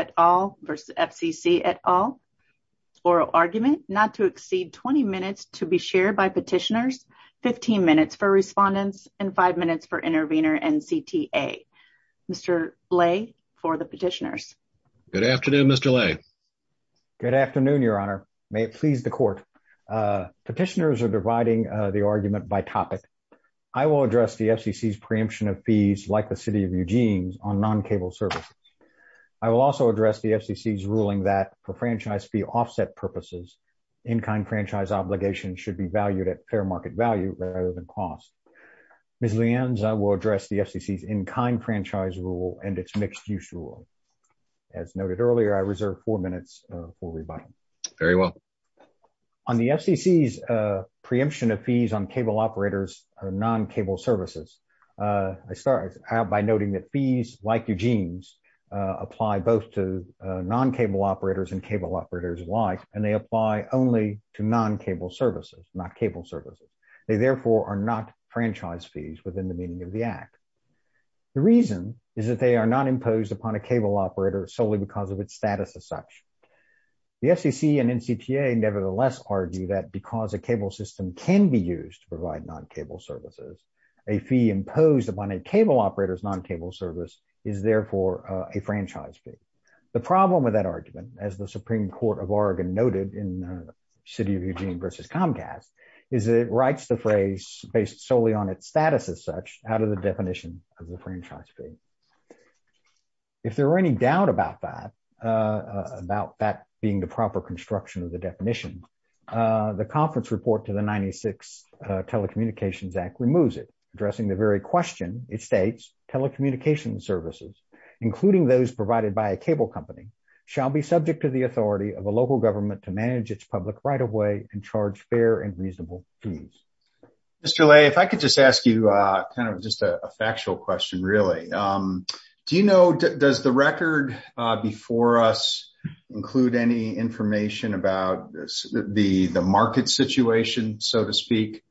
at all, oral argument not to exceed 20 minutes to be shared by petitioners, 15 minutes for respondents and 5 minutes for intervener and CTA. Mr. Lay for the petitioners. Good afternoon, Mr. Lay. Good afternoon, your honor. May it please the court. Petitioners are dividing the argument by topic. I will address the FCC's preemption of fees like the city of Eugene's on non-cable services. I will also address the FCC's ruling that for franchise fee offset purposes, in-kind franchise obligation should be valued at fair market value rather than cost. Ms. Lienz, I will address the FCC's in-kind franchise rule and its mixed use rule. As noted earlier, I reserve four minutes for rebuttal. Very well. On the FCC's preemption of fees on cable operators or non-cable services, I start out by noting that fees like Eugene's apply both to non-cable operators and cable operators alike and they apply only to non-cable services, not cable services. They, therefore, are not franchise fees within the meaning of the act. The reason is that they are not imposed upon a cable operator solely because of its status as such. The FCC and NCPA nevertheless argue that because a cable system can be used to provide non-cable services, a fee imposed upon a cable operator's non-cable service is, therefore, a franchise fee. The problem with that argument, as the Supreme Court of Oregon noted in the City of Eugene v. Comcast, is that it writes the phrase based solely on its status as such out of the definition of a franchise fee. If there were any doubt about that, about that being the proper construction of the definition, the conference report to the 96 Telecommunications Act removes it, addressing the very question. It states telecommunications services, including those provided by a cable company, shall be subject to the authority of a local government to manage its public right-of-way and charge fair and reasonable fees. Mr. Ley, if I could just ask you kind of just a factual question, really. Do you know, does the record before us include any information about the market situation, so to speak,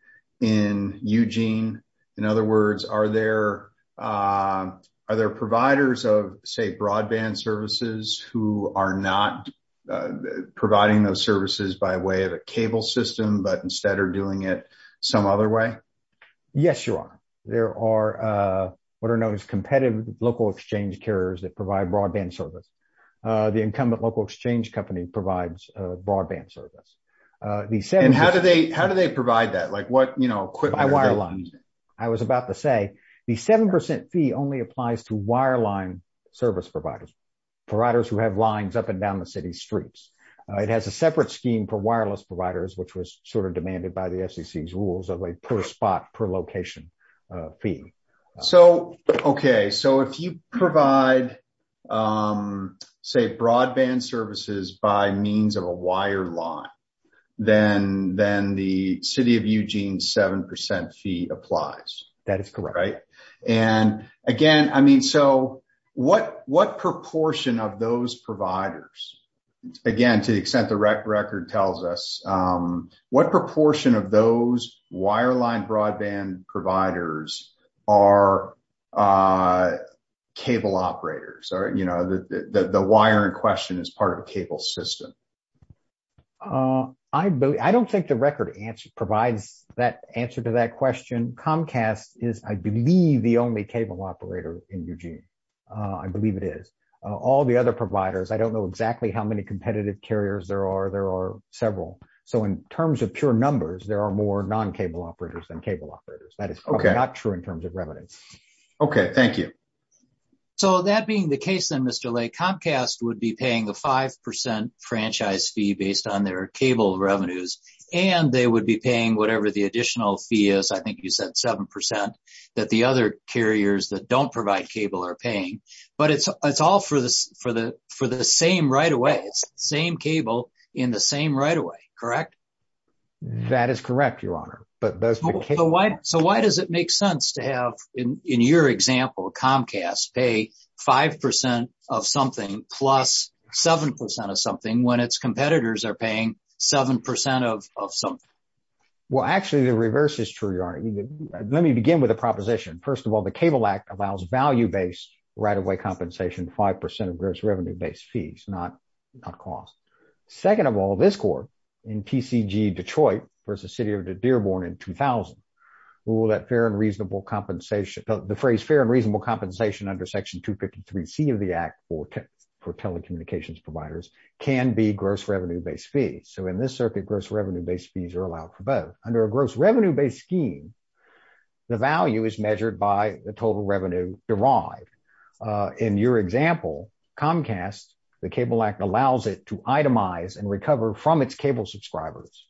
in Eugene? In other words, are there providers of, say, broadband services who are not providing those services by way of a cable system but instead are doing it some other way? Yes, Your Honor. There are what are known as competitive local exchange carriers that provide broadband service. The incumbent local exchange company provides broadband service. And how do they provide that? By wireline. I was about to say, the 7% fee only applies to wireline service providers, providers who have lines up and down the city streets. It has a separate scheme for wireless providers, which was sort of demanded by the FCC's rules of a per-spot, per-location fee. Okay, so if you provide, say, broadband services by means of a wireline, then the City of Eugene 7% fee applies. That is correct. And, again, I mean, so what proportion of those providers, again, to the extent the record tells us, what proportion of those wireline broadband providers are cable operators? You know, the wire in question is part of a cable system. I don't think the record provides that answer to that question. Comcast is, I believe, the only cable operator in Eugene. I believe it is. All the other providers, I don't know exactly how many competitive carriers there are. There are several. So in terms of pure numbers, there are more non-cable operators than cable operators. That is probably not true in terms of revenues. Okay, thank you. So that being the case, then, Mr. Lay, Comcast would be paying a 5% franchise fee based on their cable revenues. And they would be paying whatever the additional fee is. I think you said 7% that the other carriers that don't provide cable are paying. But it's all for the same right-of-way. It's the same cable in the same right-of-way, correct? That is correct, Your Honor. So why does it make sense to have, in your example, Comcast pay 5% of something plus 7% of something when its competitors are paying 7% of something? Well, actually, the reverse is true, Your Honor. Let me begin with a proposition. First of all, the Cable Act allows value-based right-of-way compensation, 5% of gross revenue-based fees, not cost. Second of all, this Court, in TCG Detroit v. City of Dearborn in 2000, ruled that the phrase fair and reasonable compensation under Section 253C of the Act for telecommunications providers can be gross revenue-based fees. So in this circuit, gross revenue-based fees are allowed for both. Under a gross revenue-based scheme, the value is measured by the total revenue derived. In your example, Comcast, the Cable Act allows it to itemize and recover from its cable subscribers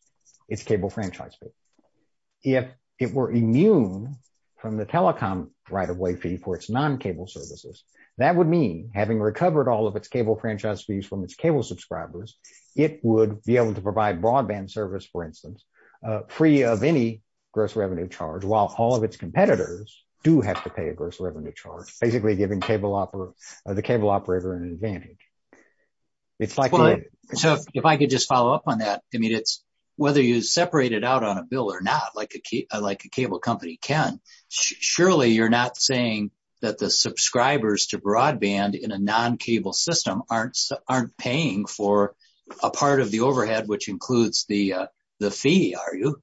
its cable franchise fee. If it were immune from the telecom right-of-way fee for its non-cable services, that would mean, having recovered all of its cable franchise fees from its cable subscribers, it would be able to provide broadband service, for instance, free of any gross revenue charge, while all of its competitors do have to pay a gross revenue charge. That's basically giving the cable operator an advantage. So if I could just follow up on that, whether you separate it out on a bill or not, like a cable company can, surely you're not saying that the subscribers to broadband in a non-cable system aren't paying for a part of the overhead which includes the fee, are you?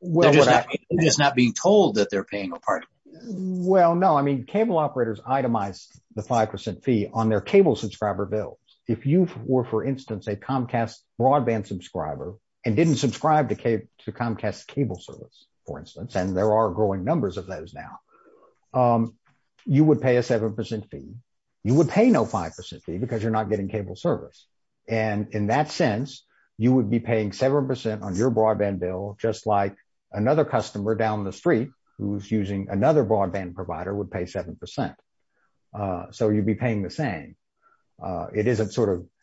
They're just not being told that they're paying a part of it. Well, no. I mean, cable operators itemize the 5% fee on their cable subscriber bills. If you were, for instance, a Comcast broadband subscriber and didn't subscribe to Comcast cable service, for instance, and there are growing numbers of those now, you would pay a 7% fee. You would pay no 5% fee because you're not getting cable service. And in that sense, you would be paying 7% on your broadband bill, just like another customer down the street who's using another broadband provider would pay 7%. So you'd be paying the same.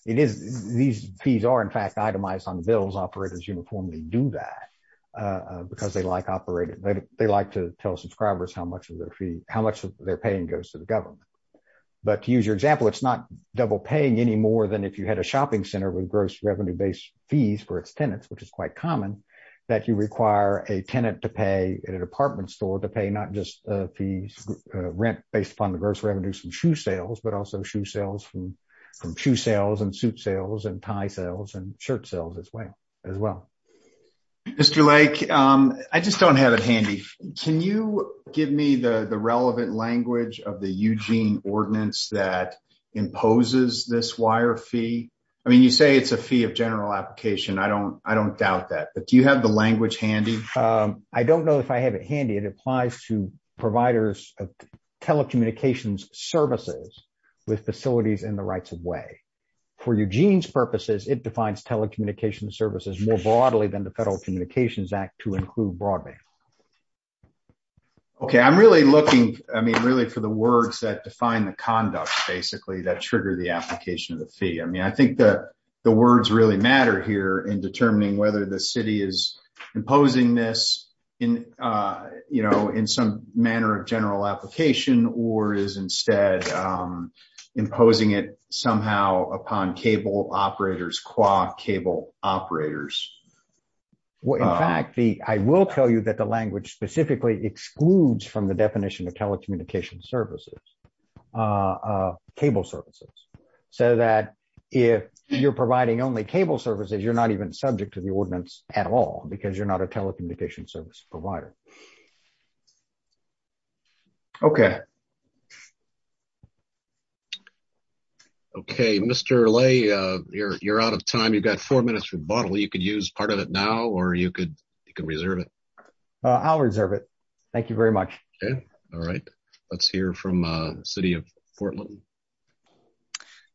These fees are, in fact, itemized on the bills. Operators uniformly do that because they like to tell subscribers how much they're paying goes to the government. But to use your example, it's not double paying any more than if you had a shopping center with gross revenue-based fees for its tenants, which is quite common, that you require a tenant to pay at an apartment store to pay not just a fee rent based upon the gross revenues from shoe sales, but also shoe sales from shoe sales and suit sales and tie sales and shirt sales as well. Mr. Lake, I just don't have it handy. Can you give me the relevant language of the Eugene ordinance that imposes this wire fee? I mean, you say it's a fee of general application. I don't doubt that. But do you have the language handy? I don't know if I have it handy. It applies to providers of telecommunications services with facilities in the rights of way. For Eugene's purposes, it defines telecommunications services more broadly than the Federal Communications Act to include broadband. Okay, I'm really looking, I mean, really for the words that define the conduct basically that trigger the application of the fee. I mean, I think that the words really matter here in determining whether the city is imposing this in, you know, in some manner of general application or is instead imposing it somehow upon cable operators, quad cable operators. Well, in fact, I will tell you that the language specifically excludes from the definition of telecommunications services, cable services, so that if you're providing only cable services, you're not even subject to the ordinance at all because you're not a telecommunications service provider. Okay. Okay, Mr. Lay, you're out of time. You've got four minutes for the bottle. You could use part of it now or you could reserve it. I'll reserve it. Thank you very much. Okay. All right. Let's hear from the city of Portland.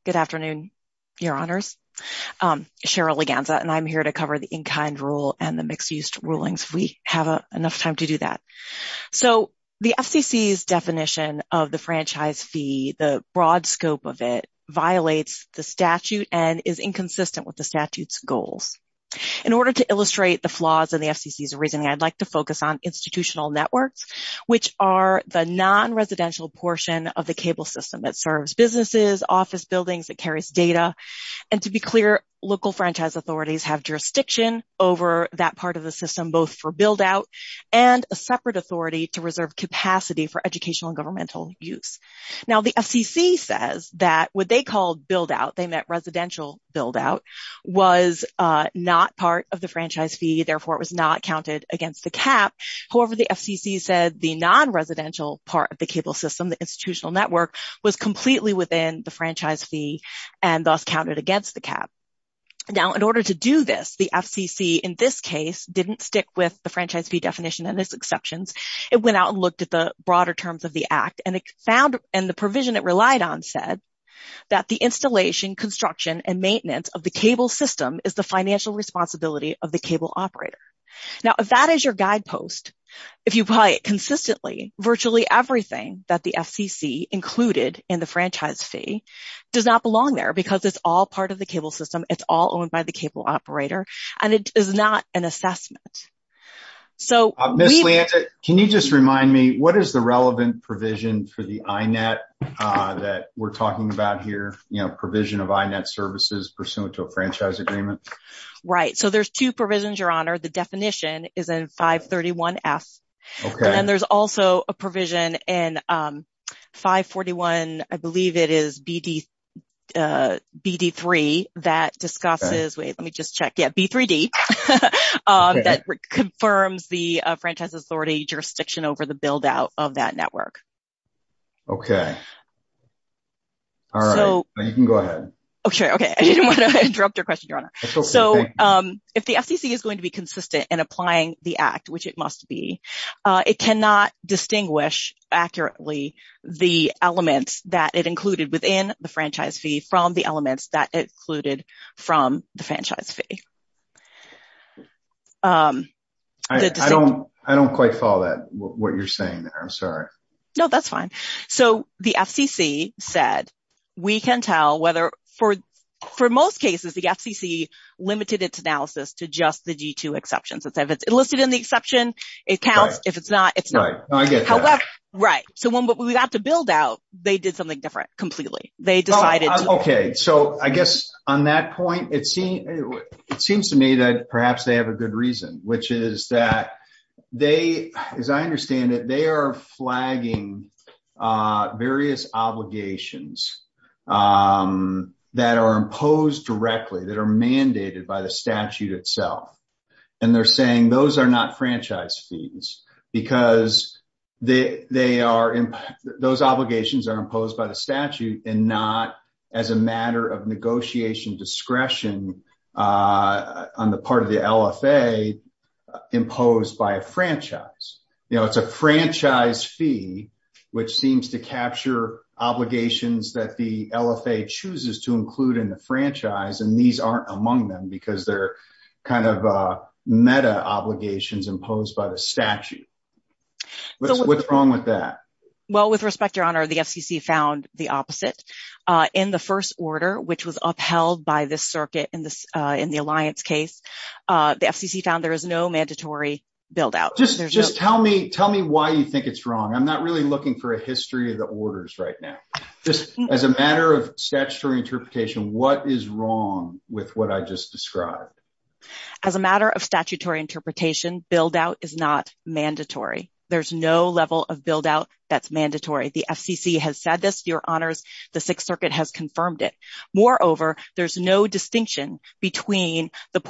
Good afternoon, Your Honors. Cheryl Leganza, and I'm here to cover the in-kind rule and the mixed-use rulings. We have enough time to do that. So, the FCC's definition of the franchise fee, the broad scope of it, violates the statute and is inconsistent with the statute's goals. In order to illustrate the flaws in the FCC's reasoning, I'd like to focus on institutional networks, which are the non-residential portion of the cable system that serves businesses, office buildings, that carries data. And to be clear, local franchise authorities have jurisdiction over that part of the system, both for build-out and a separate authority to reserve capacity for educational and governmental use. Now, the FCC says that what they called build-out, they meant residential build-out, was not part of the franchise fee. Therefore, it was not counted against the cap. However, the FCC said the non-residential part of the cable system, the institutional network, was completely within the franchise fee and thus counted against the cap. Now, in order to do this, the FCC, in this case, didn't stick with the franchise fee definition and its exceptions. It went out and looked at the broader terms of the Act, and the provision it relied on said that the installation, construction, and maintenance of the cable system is the financial responsibility of the cable operator. Now, if that is your guidepost, if you apply it consistently, virtually everything that the FCC included in the franchise fee does not belong there because it's all part of the cable system, it's all owned by the cable operator, and it is not an assessment. So, can you just remind me, what is the relevant provision for the INET that we're talking about here, you know, provision of INET services pursuant to a franchise agreement? Right. So, there's two provisions, Your Honor. The definition is in 531F. Okay. And there's also a provision in 541, I believe it is BD3, that discusses, wait, let me just check, yeah, B3D, that confirms the franchise authority jurisdiction over the build-out of that network. Okay. All right. You can go ahead. Okay. Okay. I didn't want to interrupt your question, Your Honor. So, if the FCC is going to be consistent in applying the Act, which it must be, it cannot distinguish accurately the elements that it included within the franchise fee from the elements that it included from the franchise fee. I don't quite follow that, what you're saying there. I'm sorry. No, that's fine. So, the FCC said we can tell whether, for most cases, the FCC limited its analysis to just the G2 exceptions. If it's listed in the exception, it counts. If it's not, it's not. Right. I get that. Right. So, when we got to build-out, they did something different completely. They decided to… Okay. So, I guess on that point, it seems to me that perhaps they have a good reason, which is that they, as I understand it, they are flagging various obligations that are imposed directly, that are mandated by the statute itself. And they're saying those are not franchise fees because those obligations are imposed by the statute and not as a matter of negotiation discretion on the part of the LFA imposed by a franchise. You know, it's a franchise fee, which seems to capture obligations that the LFA chooses to include in the franchise, and these aren't among them because they're kind of meta obligations imposed by the statute. What's wrong with that? Well, with respect, Your Honor, the FCC found the opposite. In the first order, which was upheld by this circuit in the Alliance case, the FCC found there is no mandatory build-out. Just tell me why you think it's wrong. I'm not really looking for a history of the orders right now. Just as a matter of statutory interpretation, what is wrong with what I just described? As a matter of statutory interpretation, build-out is not mandatory. There's no level of build-out that's mandatory. The FCC has said this, Your Honors, the Sixth Circuit has confirmed it. Moreover, there's no distinction between the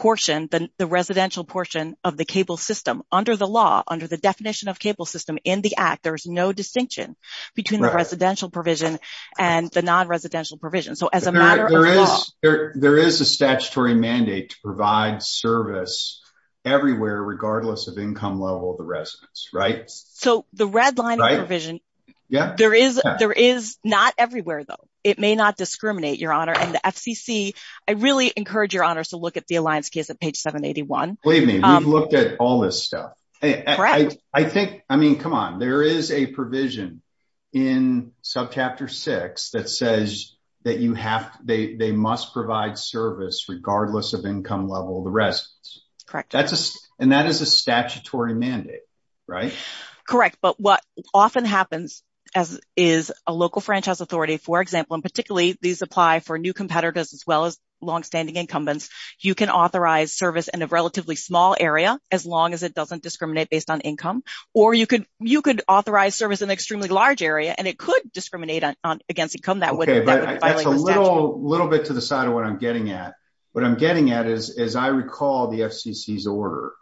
residential portion of the cable system. Under the law, under the definition of cable system in the Act, there's no distinction between the residential provision and the non-residential provision. There is a statutory mandate to provide service everywhere, regardless of income level of the residence, right? So the red line provision, there is not everywhere, though. It may not discriminate, Your Honor. And the FCC, I really encourage Your Honors to look at the Alliance case at page 781. Believe me, we've looked at all this stuff. I think, I mean, come on, there is a provision in subchapter six that says that they must provide service regardless of income level of the residence. And that is a statutory mandate, right? Correct. But what often happens is a local franchise authority, for example, and particularly these apply for new competitors as well as longstanding incumbents, you can authorize service in a relatively small area, as long as it doesn't discriminate based on income. Or you could authorize service in an extremely large area, and it could discriminate against income. That's a little bit to the side of what I'm getting at. What I'm getting at is, as I recall the FCC's order,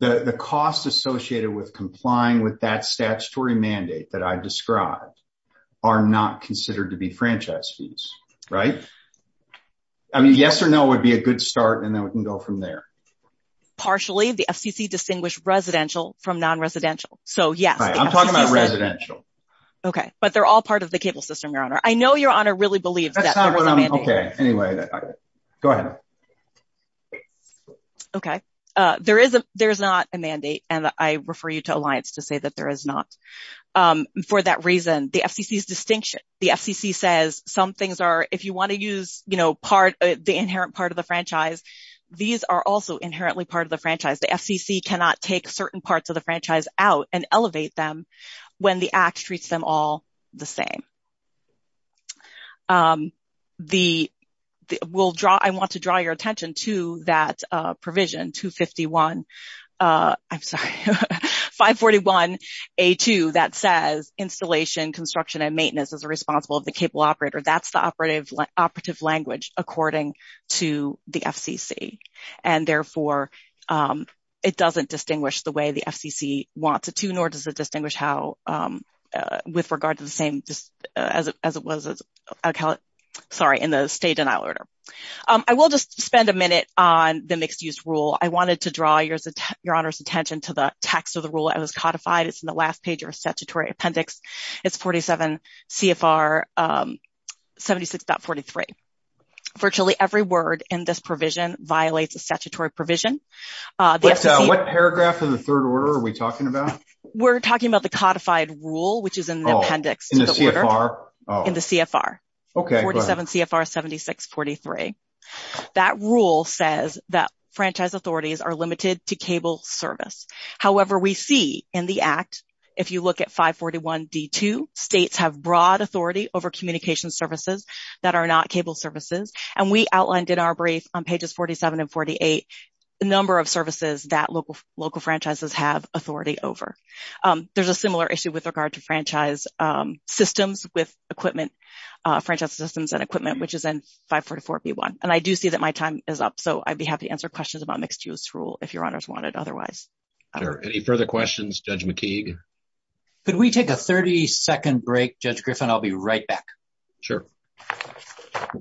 the costs associated with complying with that statutory mandate that I described are not considered to be franchise fees, right? I mean, yes or no would be a good start, and then we can go from there. Partially, the FCC distinguished residential from non-residential. So, yes. I'm talking about residential. Okay, but they're all part of the cable system, Your Honor. I know Your Honor really believes that there was a mandate. Okay, anyway, go ahead. Okay, there is not a mandate, and I refer you to Alliance to say that there is not. For that reason, the FCC's distinction, the FCC says some things are, if you want to use, you know, the inherent part of the franchise, these are also inherently part of the franchise. The FCC cannot take certain parts of the franchise out and elevate them when the Act treats them all the same. I want to draw your attention to that provision 251, I'm sorry, 541A2 that says installation, construction, and maintenance is responsible of the cable operator. That's the operative language according to the FCC. And therefore, it doesn't distinguish the way the FCC wants it to, nor does it distinguish how, with regard to the same, as it was, sorry, in the state denial order. I will just spend a minute on the mixed use rule. I wanted to draw Your Honor's attention to the text of the rule that was codified. It's in the last page of your statutory appendix. It's 47 CFR 76.43. Virtually every word in this provision violates a statutory provision. What paragraph in the third order are we talking about? We're talking about the codified rule, which is in the appendix. In the CFR? In the CFR. 47 CFR 76.43. That rule says that franchise authorities are limited to cable service. However, we see in the Act, if you look at 541D2, states have broad authority over communication services that are not cable services. And we outlined in our brief on pages 47 and 48 the number of services that local franchises have authority over. There's a similar issue with regard to franchise systems with equipment, franchise systems and equipment, which is in 544B1. And I do see that my time is up, so I'd be happy to answer questions about mixed use rule if Your Honor's wanted otherwise. Are there any further questions, Judge McKeague? Could we take a 30-second break, Judge Griffin? I'll be right back. Sure. Thank you.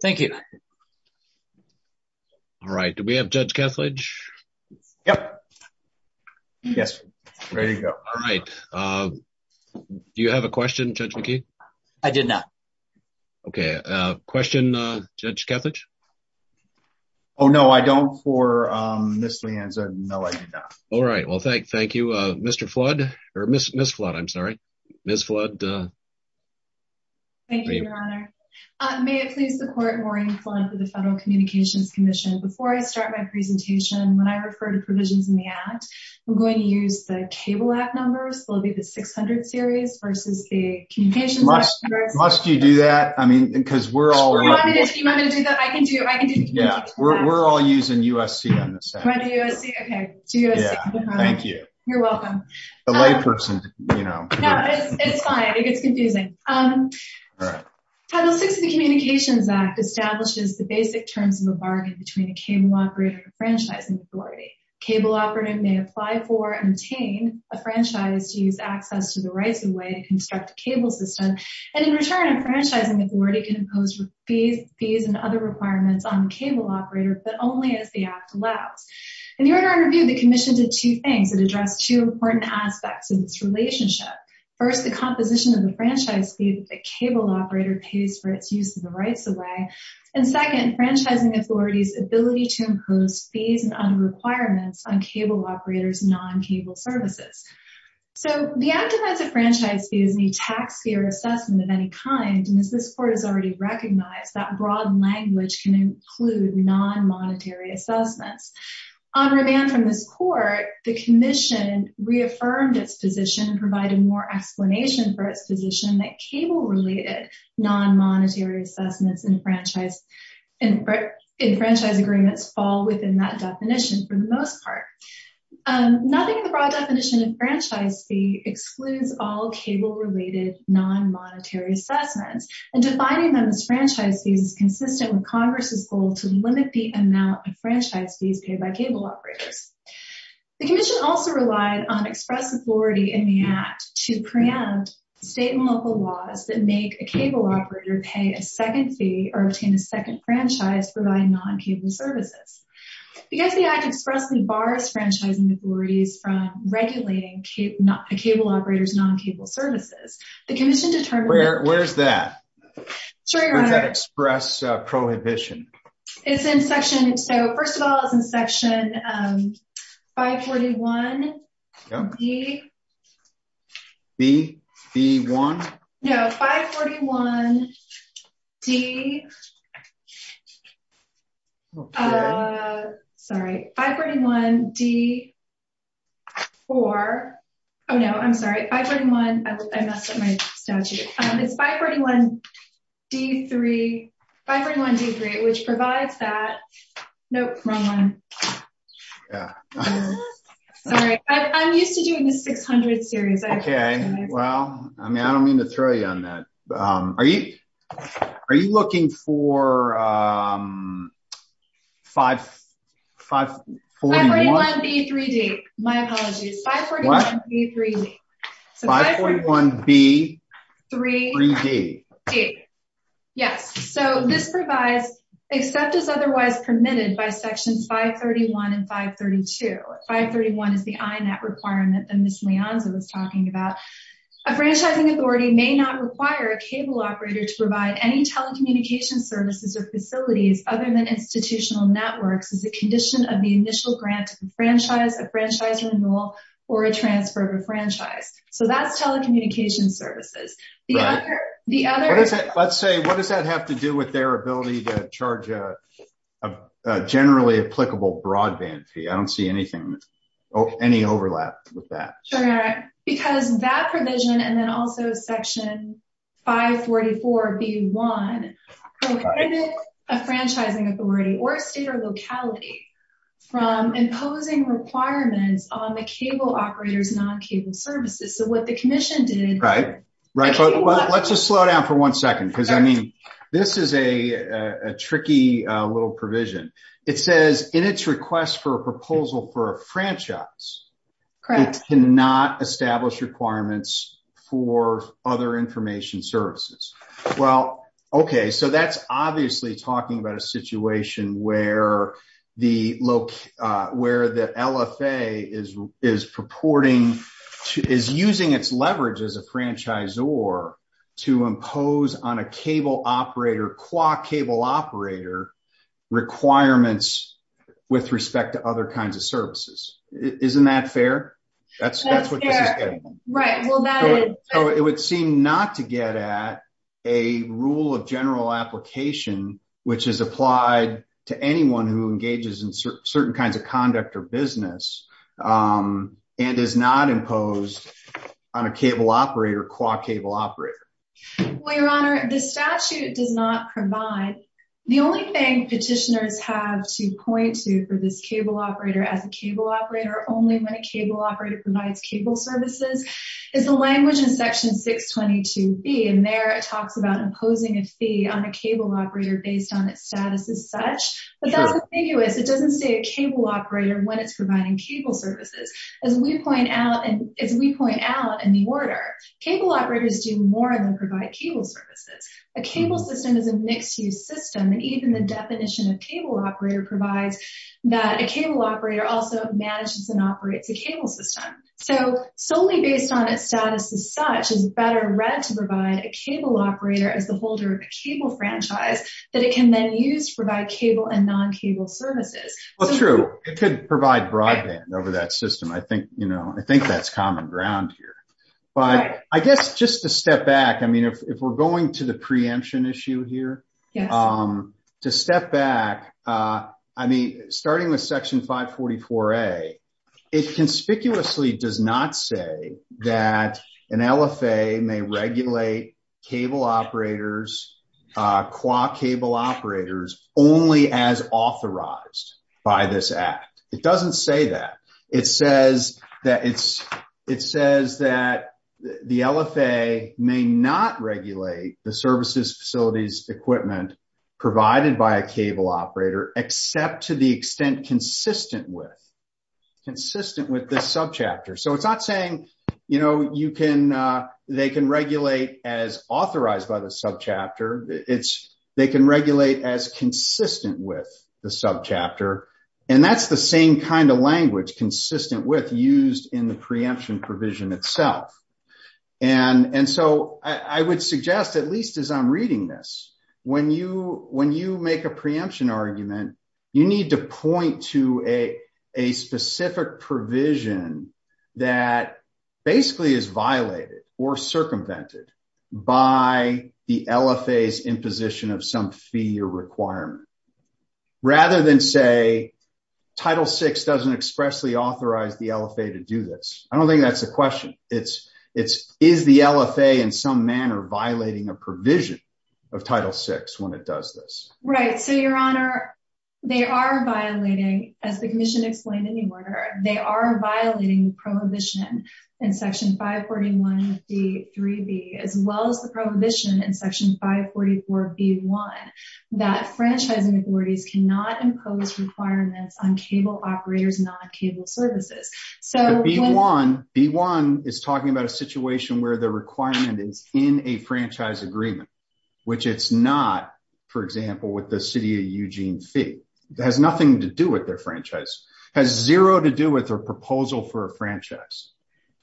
Thank you. All right. Do we have Judge Kethledge? Yes. Ready to go. All right. Do you have a question, Judge McKeague? I did not. Okay. Question, Judge Kethledge? Oh, no, I don't for Ms. Lianza. No, I do not. All right. Well, thank you. Mr. Flood, or Ms. Flood, I'm sorry. Ms. Flood. Thank you, Your Honor. May it please the Court, Maureen Flood for the Federal Communications Commission. Before I start my presentation, when I refer to provisions in the Act, I'm going to use the Cable Act numbers. They'll be the 600 series versus the Communications Act numbers. Must you do that? I mean, because we're all… You want me to do that? I can do it. I can do it. Yeah, we're all using USC on this. Right, the USC. Okay. Yeah, thank you. You're welcome. The layperson, you know. No, it's fine. It gets confusing. Title VI of the Communications Act establishes the basic terms of a bargain between a cable operator and a franchising authority. A cable operator may apply for and obtain a franchise to use access to the right of way to construct a cable system. And in return, a franchising authority can impose fees and other requirements on the cable operator, but only as the Act allows. In the order I reviewed, the Commission did two things. It addressed two important aspects of this relationship. First, the composition of the franchise fee that the cable operator pays for its use of the rights of way. And second, franchising authorities' ability to impose fees and other requirements on cable operators' non-cable services. So, the Act defines a franchise fee as any tax-sphere assessment of any kind. And as this Court has already recognized, that broad language can include non-monetary assessments. On remand from this Court, the Commission reaffirmed its position and provided more explanation for its position that cable-related non-monetary assessments in franchise agreements fall within that definition for the most part. Nothing in the broad definition of franchise fee excludes all cable-related non-monetary assessments. And defining them as franchise fees is consistent with Congress' goal to limit the amount of franchise fees paid by cable operators. The Commission also relied on express authority in the Act to preempt state and local laws that make a cable operator pay a second fee or obtain a second franchise for buying non-cable services. Because the Act expressly bars franchising authorities from regulating a cable operator's non-cable services, the Commission determined that state and local laws that make a cable operator pay a second fee or obtain a second franchise for buying non-cable services should not be subject to the law. The Commission also recommended that state and local laws that make a cable operator pay a second fee or obtain a second franchise for buying non-cable services should not be subject to the law. Yes, so this provides, except as otherwise permitted by Sections 531 and 532. 531 is the INAT requirement that Ms. Leonza was talking about. A franchising authority may not require a cable operator to provide any telecommunications services or facilities other than institutional networks as a condition of the initial grant to the franchise, a franchise renewal, or a transfer of a franchise. So that's telecommunications services. Let's say, what does that have to do with their ability to charge a generally applicable broadband fee? I don't see anything, any overlap with that. Because that provision and then also Section 544B1 prohibit a franchising authority or state or locality from imposing requirements on the cable operator's non-cable services. Right, let's just slow down for one second because this is a tricky little provision. It says, in its request for a proposal for a franchise, it cannot establish requirements for other information services. Well, okay, so that's obviously talking about a situation where the LFA is using its leverage as a franchisor to impose on a cable operator requirements with respect to other kinds of services. Isn't that fair? That's what this is getting at. It would seem not to get at a rule of general application which is applied to anyone who engages in certain kinds of conduct or business and is not imposed on a cable operator, qua cable operator. Well, Your Honor, the statute does not provide. The only thing petitioners have to point to for this cable operator as a cable operator, only when a cable operator provides cable services, is the language in Section 622B. And there it talks about imposing a fee on a cable operator based on its status as such. But that's ambiguous. It doesn't say a cable operator when it's providing cable services. As we point out in the order, cable operators do more than provide cable services. A cable system is a mixed-use system. And even the definition of cable operator provides that a cable operator also manages and operates a cable system. So solely based on its status as such is better read to provide a cable operator as the holder of a cable franchise that it can then use to provide cable and non-cable services. Well, true. It could provide broadband over that system. I think that's common ground here. But I guess just to step back, I mean, if we're going to the preemption issue here, to step back, I mean, starting with Section 544A, it conspicuously does not say that an LFA may regulate cable operators, quad cable operators, only as authorized by this act. It doesn't say that. It says that the LFA may not regulate the services, facilities, equipment provided by a cable operator, except to the extent consistent with this subchapter. So it's not saying, you know, they can regulate as authorized by the subchapter. They can regulate as consistent with the subchapter. And that's the same kind of language, consistent with used in the preemption provision itself. And so I would suggest, at least as I'm reading this, when you make a preemption argument, you need to point to a specific provision that basically is violated or circumvented by the LFA's imposition of some fee or requirement, rather than say Title VI doesn't expressly authorize the LFA to do this. I don't think that's a question. Is the LFA in some manner violating a provision of Title VI when it does this? Right. So, Your Honor, they are violating, as the commission explained in the order, they are violating the prohibition in Section 541D3B, as well as the prohibition in Section 544B1, that franchising authorities cannot impose requirements on cable operators, not on cable services. So when – But B1, B1 is talking about a situation where the requirement is in a franchise agreement, which it's not, for example, with the City of Eugene fee. It has nothing to do with their franchise. It has zero to do with their proposal for a franchise.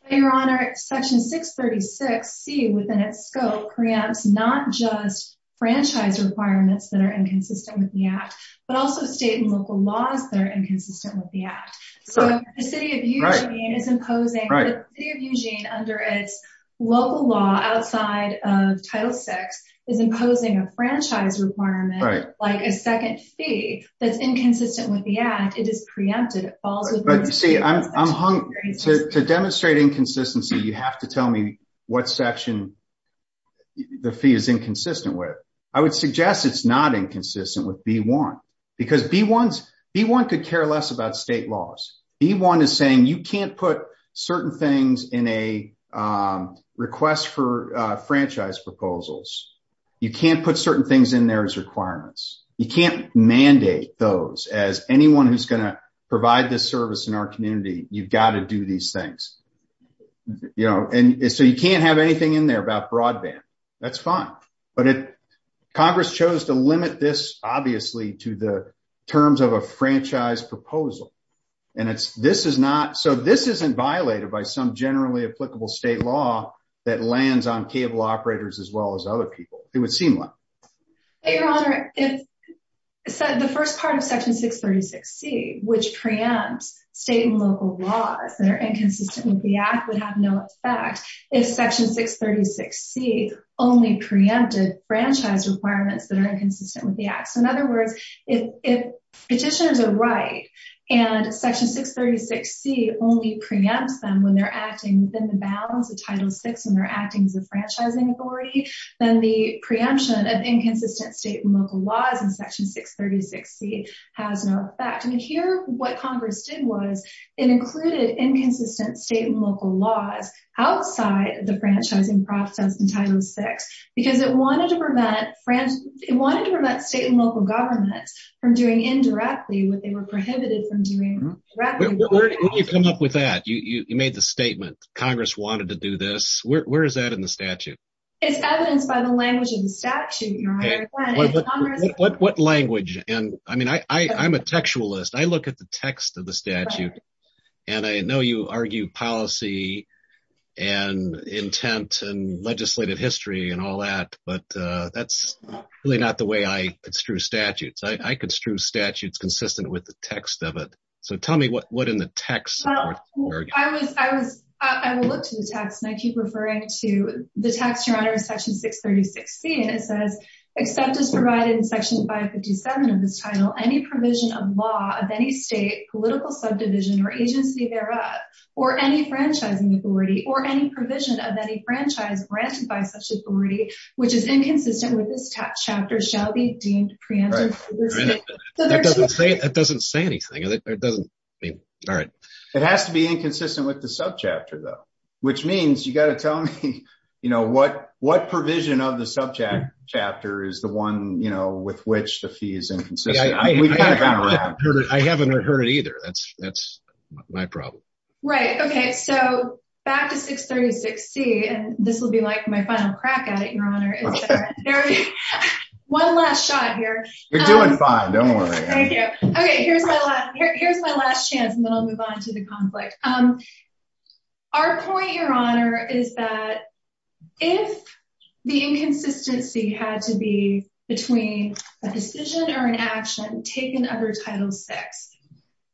Your Honor, Section 636C, within its scope, preempts not just franchise requirements that are inconsistent with the Act, but also state and local laws that are inconsistent with the Act. So the City of Eugene is imposing – Right. The City of Eugene, under its local law, outside of Title VI, is imposing a franchise requirement, like a second fee, that's inconsistent with the Act. It is preempted. It falls within the state and local laws. But, you see, I'm hung – To demonstrate inconsistency, you have to tell me what section the fee is inconsistent with. I would suggest it's not inconsistent with B1, because B1 could care less about state laws. B1 is saying you can't put certain things in a request for franchise proposals. You can't put certain things in there as requirements. You can't mandate those as anyone who's going to provide this service in our community. You've got to do these things. So you can't have anything in there about broadband. That's fine. But Congress chose to limit this, obviously, to the terms of a franchise proposal. And this is not – So this isn't violated by some generally applicable state law that lands on cable operators as well as other people. It would seem like. Your Honor, the first part of Section 636C, which preempts state and local laws that are inconsistent with the Act, would have no effect if Section 636C only preempted franchise requirements that are inconsistent with the Act. So, in other words, if petitioners are right and Section 636C only preempts them when they're acting within the bounds of Title VI and they're acting as a franchising authority, then the preemption of inconsistent state and local laws in Section 636C has no effect. And here what Congress did was it included inconsistent state and local laws outside the franchising process in Title VI because it wanted to prevent state and local governments from doing indirectly what they were prohibited from doing directly. Where did you come up with that? You made the statement Congress wanted to do this. Where is that in the statute? It's evidenced by the language of the statute, Your Honor. What language? I mean, I'm a textualist. I look at the text of the statute. And I know you argue policy and intent and legislative history and all that, but that's really not the way I construe statutes. I construe statutes consistent with the text of it. So tell me what in the text. I will look to the text, and I keep referring to the text, Your Honor, in Section 636C. And it says, except as provided in Section 557 of this title, any provision of law of any state, political subdivision, or agency thereof, or any franchising authority, or any provision of any franchise granted by such authority, which is inconsistent with this chapter, shall be deemed preempted. That doesn't say anything. It has to be inconsistent with the subchapter, though, which means you've got to tell me, you know, what provision of the subject chapter is the one, you know, with which the fee is inconsistent. I haven't heard it either. That's my problem. Right. Okay. So back to 636C, and this will be like my final crack at it, Your Honor. One last shot here. You're doing fine. Don't worry. Okay. Here's my last chance, and then I'll move on to the conflict. Our point, Your Honor, is that if the inconsistency had to be between a decision or an action taken under Title VI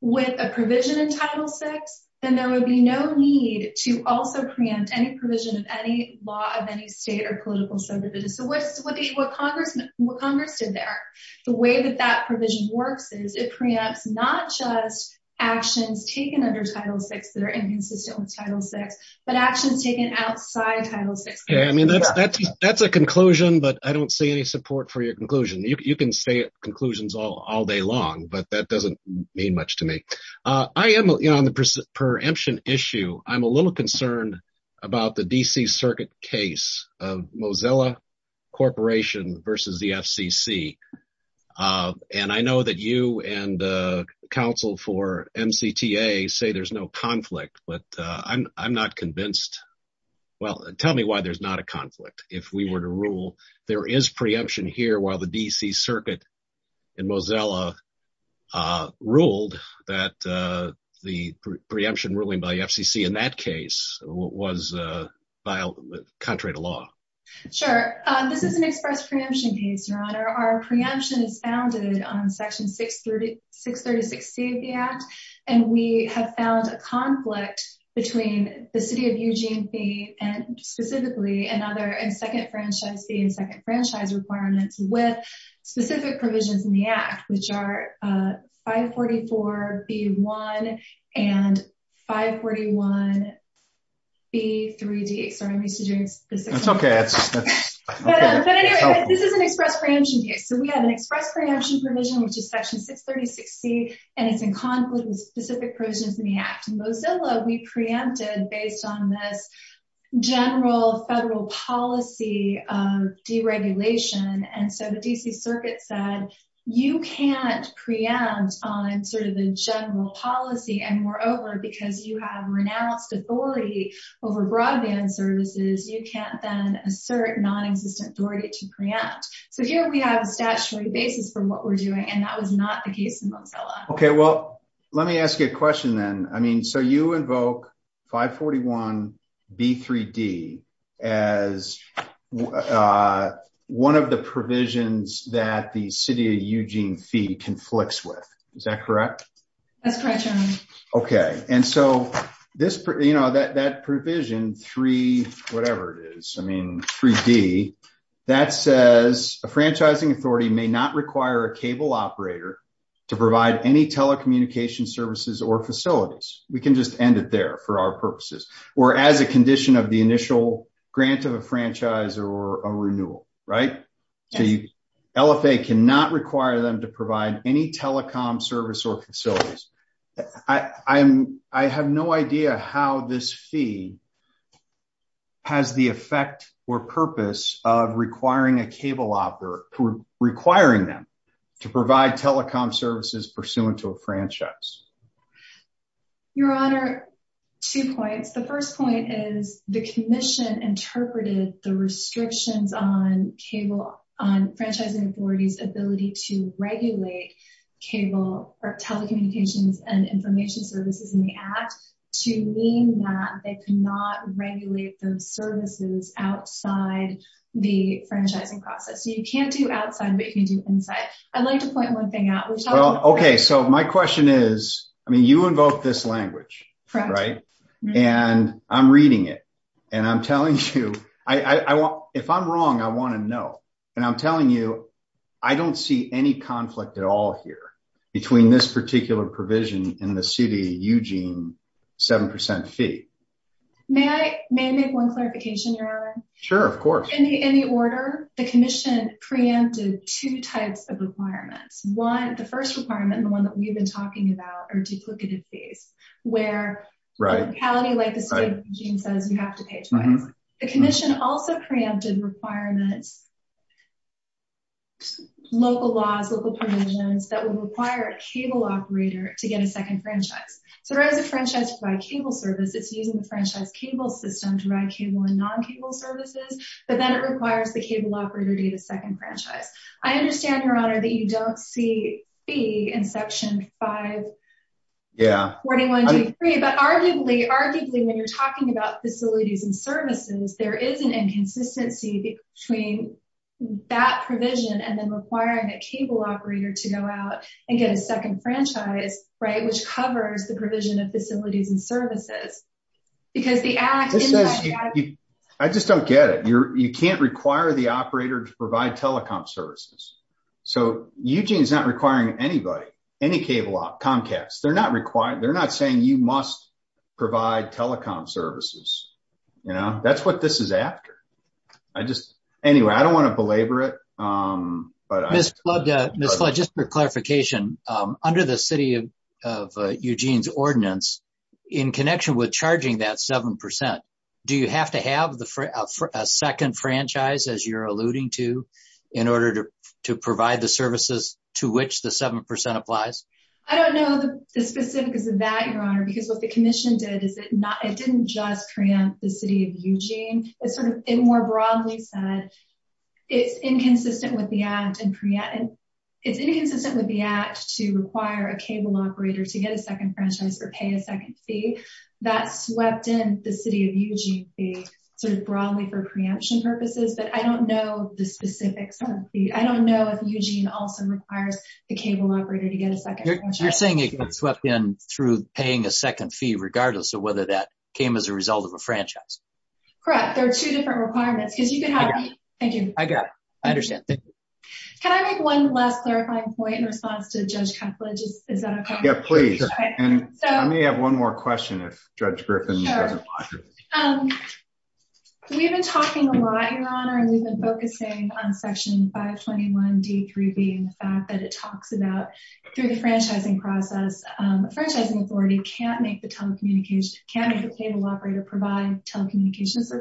with a provision in Title VI, then there would be no need to also preempt any provision of any law of any state or political subdivision. So what Congress did there, the way that that provision works is it preempts not just actions taken under Title VI that are inconsistent with Title VI, but actions taken outside Title VI. Yeah, I mean, that's a conclusion, but I don't see any support for your conclusion. You can say conclusions all day long, but that doesn't mean much to me. On the preemption issue, I'm a little concerned about the D.C. Circuit case of Mozilla Corporation versus the FCC, and I know that you and counsel for MCTA say there's no conflict, but I'm not convinced. Well, tell me why there's not a conflict. There is preemption here while the D.C. Circuit in Mozilla ruled that the preemption ruling by FCC in that case was contrary to law. Sure. This is an express preemption case, Your Honor. Our preemption is founded on Section 636C of the Act, and we have found a conflict between the City of Eugene fee and specifically another second franchise fee and second franchise requirements with specific provisions in the Act, which are 544B1 and 541B3D. Sorry, I'm used to doing this. That's OK. But anyway, this is an express preemption case. So we have an express preemption provision, which is Section 636C, and it's in conflict with specific provisions in the Act. In Mozilla, we preempted based on this general federal policy deregulation, and so the D.C. Circuit said you can't preempt on sort of the general policy, and moreover, because you have renounced authority over broadband services, you can't then assert non-existent authority to preempt. So here we have statutory basis for what we're doing, and that was not the case in Mozilla. OK, well, let me ask you a question then. I mean, so you invoke 541B3D as one of the provisions that the City of Eugene fee conflicts with. Is that correct? That's correct, Your Honor. OK, and so that provision 3, whatever it is, I mean, 3D, that says a franchising authority may not require a cable operator to provide any telecommunication services or facilities. We can just end it there for our purposes. Or as a condition of the initial grant of a franchise or a renewal, right? So LFA cannot require them to provide any telecom service or facilities. I have no idea how this fee has the effect or purpose of requiring a cable operator, requiring them to provide telecom services pursuant to a franchise. Your Honor, two points. The first point is the commission interpreted the restrictions on franchising authorities' ability to regulate cable or telecommunications and information services in the Act to mean that they cannot regulate those services outside the franchising process. So you can't do outside, but you can do inside. I'd like to point one thing out. OK, so my question is, I mean, you invoked this language, right? And I'm reading it. And I'm telling you, if I'm wrong, I want to know. And I'm telling you, I don't see any conflict at all here between this particular provision and the CDUG 7% fee. May I make one clarification, Your Honor? Sure, of course. In the order, the commission preempted two types of requirements. One, the first requirement, the one that we've been talking about, are duplicative fees, where the locality, like the state regime says, you have to pay twice. The commission also preempted requirements, local laws, local provisions, that would require a cable operator to get a second franchise. So right as a franchise provides cable service, it's using the franchise cable system to provide cable and non-cable services. But then it requires the cable operator to get a second franchise. I understand, Your Honor, that you don't see fee in Section 541G3. But arguably, when you're talking about facilities and services, there is an inconsistency between that provision and then requiring a cable operator to go out and get a second franchise, right? It requires the provision of facilities and services. I just don't get it. You can't require the operator to provide telecom services. So Eugene is not requiring anybody, any cable op, Comcast. They're not saying you must provide telecom services. That's what this is after. Anyway, I don't want to belabor it. Ms. Flood, just for clarification, under the city of Eugene's ordinance, in connection with charging that 7%, do you have to have a second franchise, as you're alluding to, in order to provide the services to which the 7% applies? I don't know the specifics of that, Your Honor, because what the commission did is it didn't just preempt the city of Eugene. It more broadly said it's inconsistent with the act to require a cable operator to get a second franchise or pay a second fee. That swept in the city of Eugene fee broadly for preemption purposes. But I don't know the specifics of the fee. I don't know if Eugene also requires the cable operator to get a second franchise. You're saying it got swept in through paying a second fee regardless of whether that came as a result of a franchise? Correct. There are two different requirements. Thank you. I got it. I understand. Thank you. Can I make one last clarifying point in response to Judge Cuthledge? Is that okay? Yeah, please. I may have one more question if Judge Griffin doesn't mind. Sure. We've been talking a lot, Your Honor, and we've been focusing on Section 521D through B and the fact that it talks about, through the franchising process, a franchising authority can't make the cable operator provide telecommunications.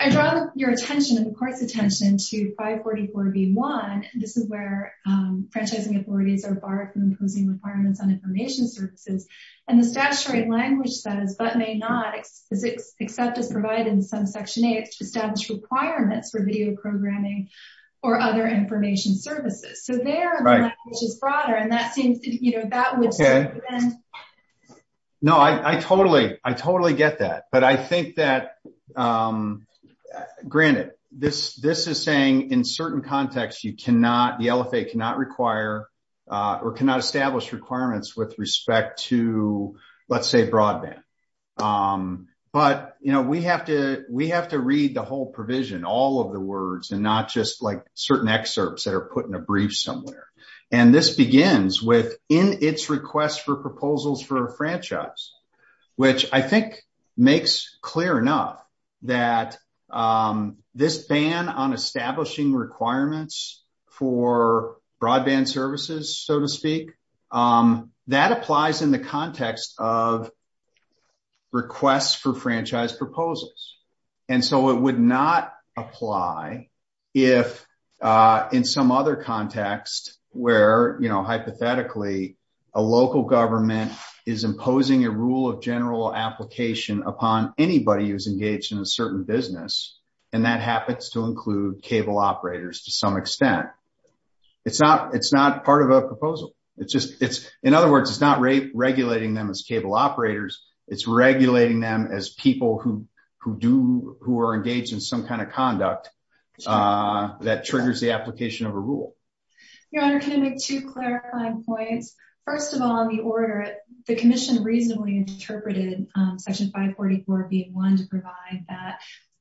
I draw your attention and the Court's attention to 544B1. This is where franchising authorities are barred from imposing requirements on information services. And the statutory language says, but may not, except as provided in some Section 8, establish requirements for video programming or other information services. So there, the language is broader. And that seems to, you know, that would seem to bend. No, I totally get that. But I think that, granted, this is saying in certain contexts you cannot, the LFA cannot require or cannot establish requirements with respect to, let's say, broadband. But, you know, we have to read the whole provision, all of the words, and not just like certain excerpts that are put in a brief somewhere. And this begins with, in its request for proposals for a franchise, which I think makes clear enough that this ban on establishing requirements for broadband services, so to speak, that applies in the context of requests for franchise proposals. And so it would not apply if, in some other context where, you know, hypothetically, a local government is imposing a rule of general application upon anybody who's engaged in a certain business, and that happens to include cable operators to some extent. It's not part of a proposal. In other words, it's not regulating them as cable operators. It's regulating them as people who are engaged in some kind of conduct that triggers the application of a rule. Your Honor, can I make two clarifying points? First of all, in the order, the Commission reasonably interpreted Section 544B1 to provide that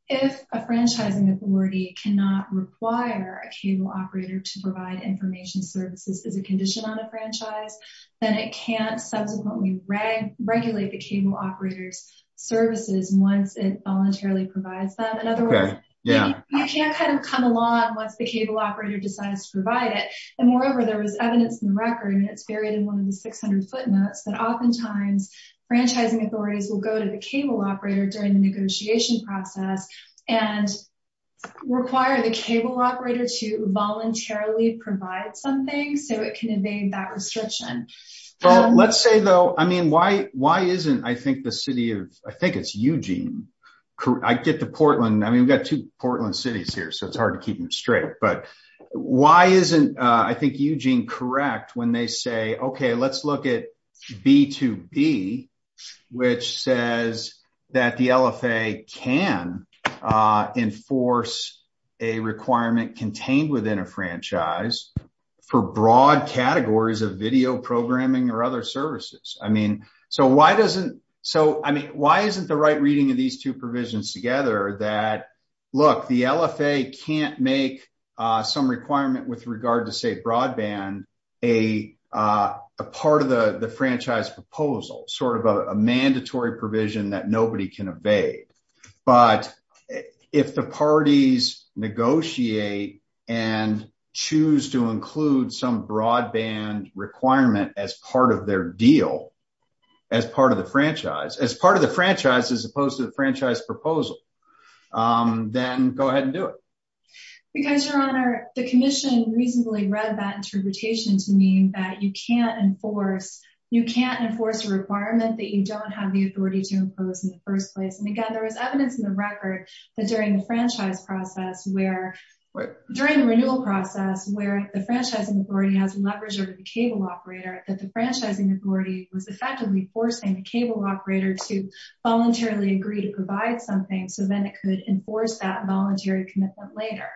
if a franchising authority cannot require a cable operator to provide information services as a condition on a franchise, then it can't subsequently regulate the cable operator's services once it voluntarily provides them. In other words, you can't kind of come along once the cable operator decides to provide it. And moreover, there was evidence in the record, and it's buried in one of the 600 footnotes, that oftentimes franchising authorities will go to the cable operator during the negotiation process and require the cable operator to voluntarily provide something so it can evade that restriction. Let's say, though, I mean, why isn't, I think, the city of, I think it's Eugene, I get to Portland. I mean, we've got two Portland cities here, so it's hard to keep them straight. But why isn't, I think, Eugene correct when they say, okay, let's look at B2B, which says that the LFA can enforce a requirement contained within a franchise for broad categories of video programming or other services. I mean, so why doesn't, so I mean, why isn't the right reading of these two provisions together that, look, the LFA can't make some requirement with regard to, say, broadband, a part of the franchise proposal, sort of a mandatory provision that nobody can evade. But if the parties negotiate and choose to include some broadband requirement as part of their deal, as part of the franchise, as part of the franchise as opposed to the franchise proposal, then go ahead and do it. Because, Your Honor, the commission reasonably read that interpretation to mean that you can't enforce, you can't enforce a requirement that you don't have the authority to impose in the first place. And again, there is evidence in the record that during the franchise process where, during the renewal process where the franchising authority has leverage over the cable operator, that the franchising authority was effectively forcing the cable operator to voluntarily agree to provide something so then it could enforce that voluntary commitment later.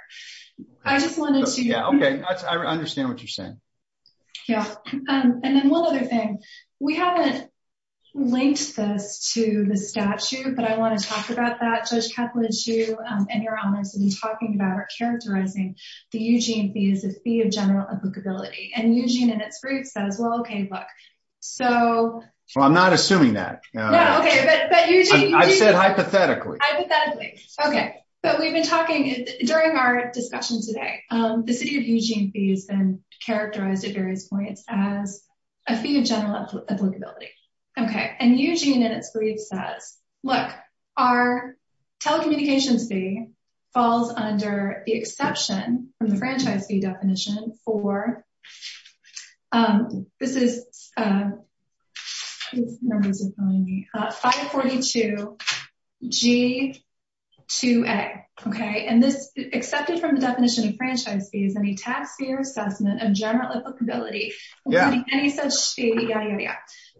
I just wanted to... Yeah, okay, I understand what you're saying. Yeah, and then one other thing. We haven't linked this to the statute, but I want to talk about that. Judge Kaplan, you and Your Honors have been talking about or characterizing the Eugene fee as a fee of general applicability, and Eugene and its group says, well, okay, look, so... Well, I'm not assuming that. No, okay, but Eugene... I said hypothetically. Okay, but we've been talking during our discussion today. The city of Eugene fee has been characterized at various points as a fee of general applicability. Okay, and Eugene and its group says, look, our telecommunications fee falls under the exception from the franchise fee definition for, this is 542G2A, okay, and this, excepted from the definition of franchise fee is any tax year assessment of general applicability. Yeah.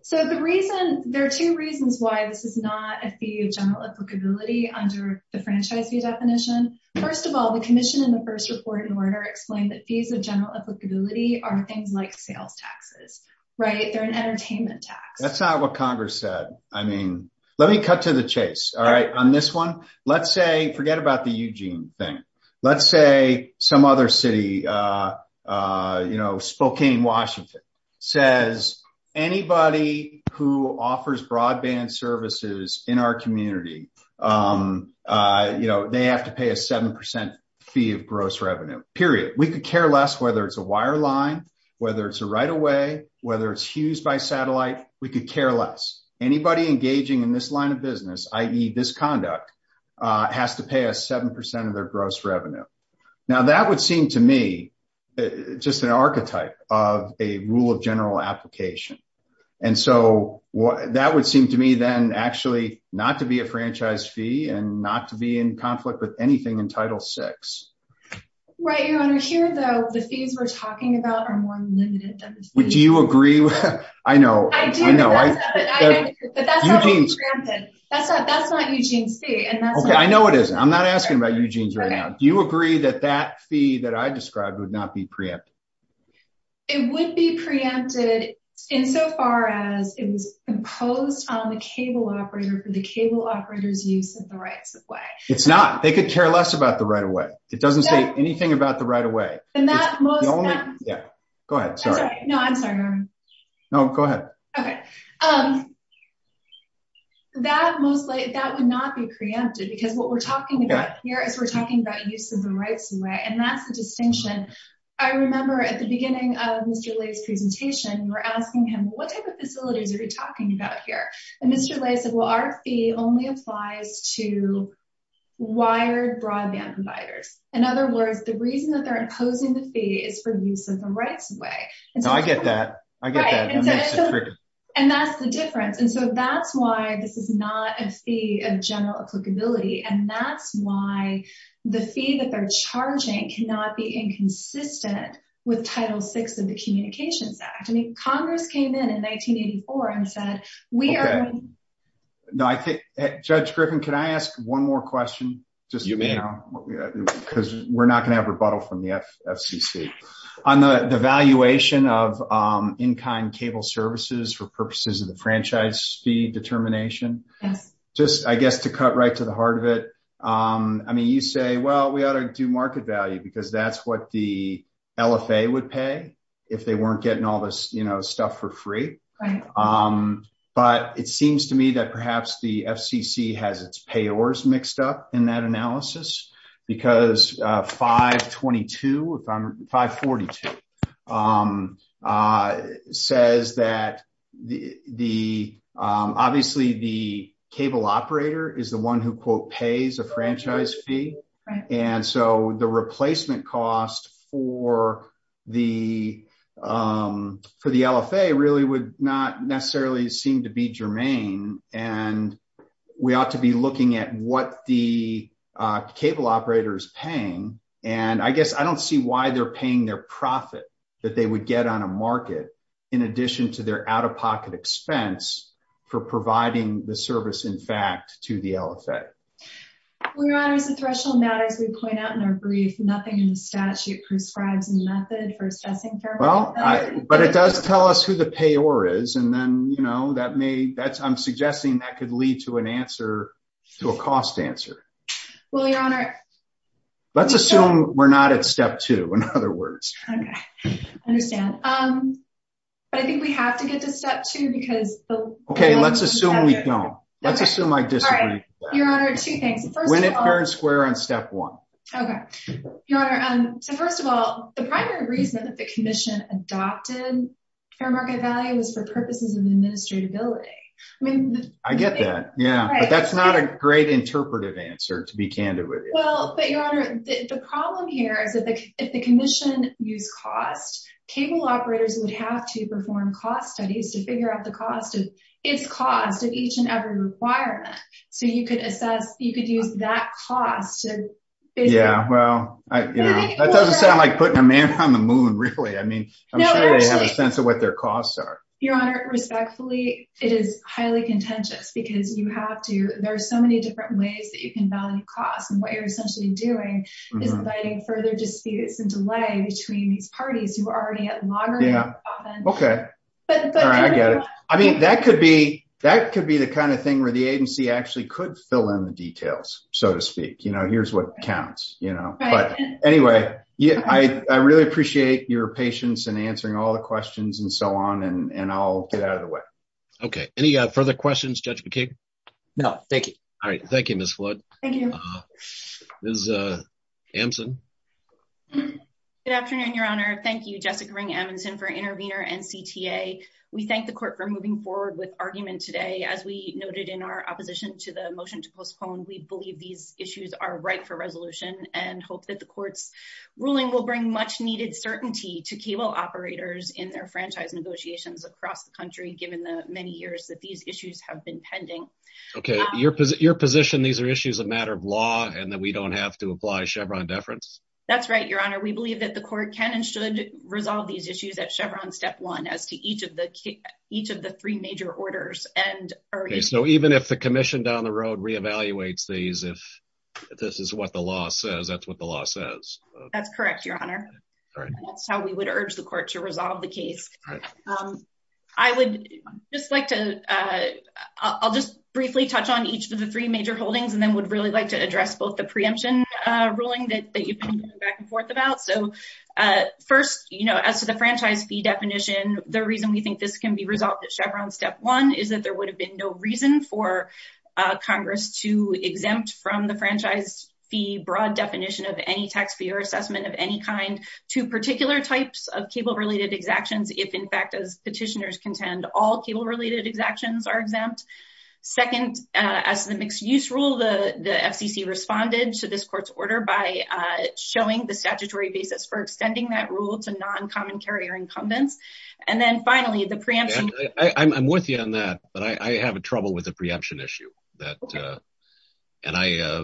So the reason, there are two reasons why this is not a fee of general applicability under the franchise fee definition. First of all, the commission in the first report in order explained that fees of general applicability are things like sales taxes, right? They're an entertainment tax. That's not what Congress said. I mean, let me cut to the chase. All right, on this one, let's say, forget about the Eugene thing. Let's say some other city, you know, Spokane, Washington, says anybody who offers broadband services in our community, you know, they have to pay a 7% fee of gross revenue, period. We could care less whether it's a wireline, whether it's a right-of-way, whether it's used by satellite, we could care less. Anybody engaging in this line of business, i.e. this conduct, has to pay a 7% of their gross revenue. Now that would seem to me just an archetype of a rule of general application. And so that would seem to me then actually not to be a franchise fee and not to be in conflict with anything in Title VI. Right, Your Honor. Here, though, the fees we're talking about are more limited. Do you agree? I know. I know. But that's not what we preempted. That's not Eugene's fee. Okay, I know it isn't. I'm not asking about Eugene's right now. Do you agree that that fee that I described would not be preempted? It would be preempted insofar as it was imposed on the cable operator for the cable operator's use of the right-of-way. It's not. They could care less about the right-of-way. It doesn't say anything about the right-of-way. Go ahead. Sorry. No, I'm sorry, Your Honor. No, go ahead. Okay. That would not be preempted because what we're talking about here is we're talking about use of the rights-of-way and that's the distinction. I remember at the beginning of Mr. Ley's presentation, we were asking him, what type of facilities are you talking about here? And Mr. Ley said, well, our fee only applies to wired broadband providers. In other words, the reason that they're imposing the fee is for use of the rights-of-way. No, I get that. I get that. And that's the difference. And so that's why this is not a fee of general applicability. And that's why the fee that they're charging cannot be inconsistent with Title VI of the Communications Act. I mean, Congress came in in 1984 and said, we are… Okay. Judge Griffin, can I ask one more question? You may. Because we're not going to have rebuttal from the FCC. On the valuation of in-kind cable services for purposes of the franchise fee determination. Yes. Just, I guess, to cut right to the heart of it. I mean, you say, well, we ought to do market value because that's what the LFA would pay if they weren't getting all this stuff for free. But it seems to me that perhaps the FCC has its payors mixed up in that analysis. Because 522, 542 says that the… Obviously, the cable operator is the one who, quote, pays a franchise fee. And so the replacement cost for the LFA really would not necessarily seem to be germane. And we ought to be looking at what the cable operator is paying. And I guess I don't see why they're paying their profit that they would get on a market in addition to their out-of-pocket expense for providing the service, in fact, to the LFA. Well, Your Honor, it's a threshold matter, as we point out in our brief. Nothing in the statute prescribes a method for assessing fair market value. But it does tell us who the payor is. And then, you know, I'm suggesting that could lead to a cost answer. Well, Your Honor… Let's assume we're not at step two, in other words. Okay, I understand. But I think we have to get to step two because… Okay, let's assume we don't. Let's assume I disagree. There are two things. When it turns square on step one. Your Honor, so first of all, the primary reason that the Commission adopted fair market value was for purposes of administratability. I get that, yeah. But that's not a great interpretive answer, to be candid with you. Well, but Your Honor, the problem here is that if the Commission used cost, cable operators would have to perform cost studies to figure out the cost of each and every requirement. So you could assess, you could use that cost to… Yeah, well, that doesn't sound like putting a man on the moon, really. I mean, I'm sure they have a sense of what their costs are. Your Honor, respectfully, it is highly contentious because you have to, there are so many different ways that you can value cost. And what you're essentially doing is inviting further disputes and delay between these parties who are already at loggerheads. Okay, I get it. I mean, that could be the kind of thing where the agency actually could fill in the details, so to speak. You know, here's what counts, you know. But anyway, I really appreciate your patience in answering all the questions and so on, and I'll get out of the way. Okay, any further questions, Judge McKee? No, thank you. All right, thank you, Ms. Flood. Ms. Ampson? Good afternoon, Your Honor. Thank you, Jessica Ring-Amundson for Intervenor and CTA. We thank the Court for moving forward with argument today. As we noted in our opposition to the motion to postpone, we believe these issues are ripe for resolution and hope that the Court's ruling will bring much-needed certainty to cable operators in their franchise negotiations across the country, given the many years that these issues have been pending. Okay, your position, these are issues of matter of law and that we don't have to apply Chevron deference? That's right, Your Honor. We believe that the Court can and should resolve these issues at Chevron Step 1 as to each of the three major orders. Okay, so even if the Commission down the road re-evaluates these, if this is what the law says, that's what the law says? That's correct, Your Honor. That's how we would urge the Court to resolve the case. I would just like to, I'll just briefly touch on each of the three major holdings and then would really like to address both the preemption ruling that you've been going back and forth about. So, first, you know, as to the franchise fee definition, the reason we think this can be resolved at Chevron Step 1 is that there would have been no reason for Congress to exempt from the franchise fee broad definition of any tax payer assessment of any kind to particular types of cable-related exactions if, in fact, as petitioners contend, all cable-related exactions are exempt. Second, as to the mixed-use rule, the FCC responded to this Court's order by showing the statutory basis for extending that rule to non-common carrier incumbents. And then, finally, the preemption… I'm with you on that, but I have trouble with the preemption issue. Okay. And I…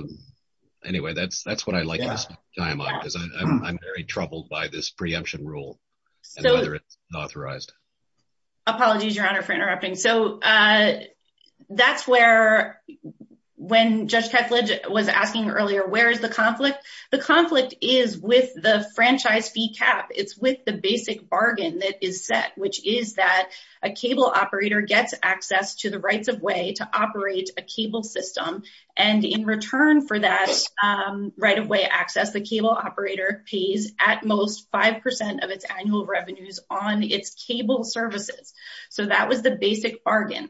Anyway, that's what I like to see. I'm very troubled by this preemption rule and whether it's authorized. Apologies, Your Honor, for interrupting. So, that's where, when Judge Kethledge was asking earlier, where is the conflict? The conflict is with the franchise fee cap. It's with the basic bargain that is set, which is that a cable operator gets access to the rights-of-way to operate a cable system. And in return for that right-of-way access, the cable operator pays at most 5 percent of its annual revenues on its cable services. So, that was the basic bargain.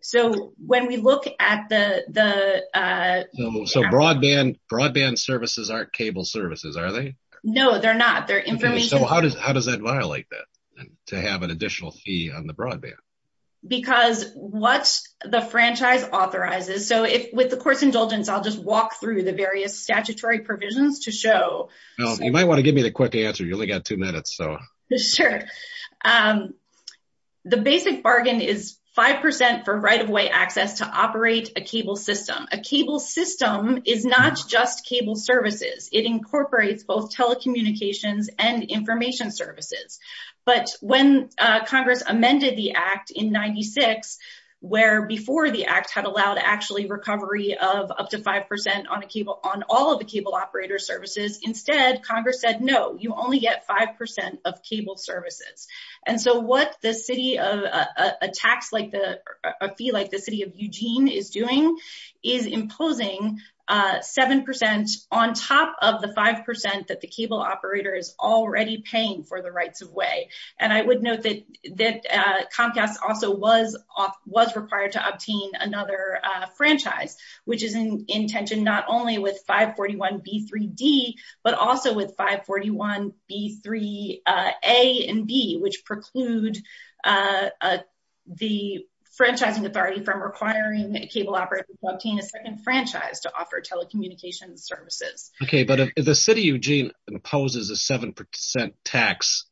So, when we look at the… So, broadband services aren't cable services, are they? No, they're not. So, how does that violate that, to have an additional fee on the broadband? Because what the franchise authorizes… So, with the court's indulgence, I'll just walk through the various statutory provisions to show… Well, you might want to give me the quick answer. You only got two minutes, so… Sure. The basic bargain is 5 percent for right-of-way access to operate a cable system. A cable system is not just cable services. It incorporates both telecommunications and information services. But when Congress amended the Act in 1996, where before the Act had allowed actually recovery of up to 5 percent on all of the cable operator services, instead, Congress said, no, you only get 5 percent of cable services. And so, what a fee like the City of Eugene is doing is imposing 7 percent on top of the 5 percent that the cable operator is already paying for the rights-of-way. And I would note that Comcast also was required to obtain another franchise, which is in tension not only with 541B3D, but also with 541B3A and B, which preclude the franchising authority from requiring cable operators to obtain a second franchise to offer telecommunications services. Okay, but if the City of Eugene imposes a 7 percent tax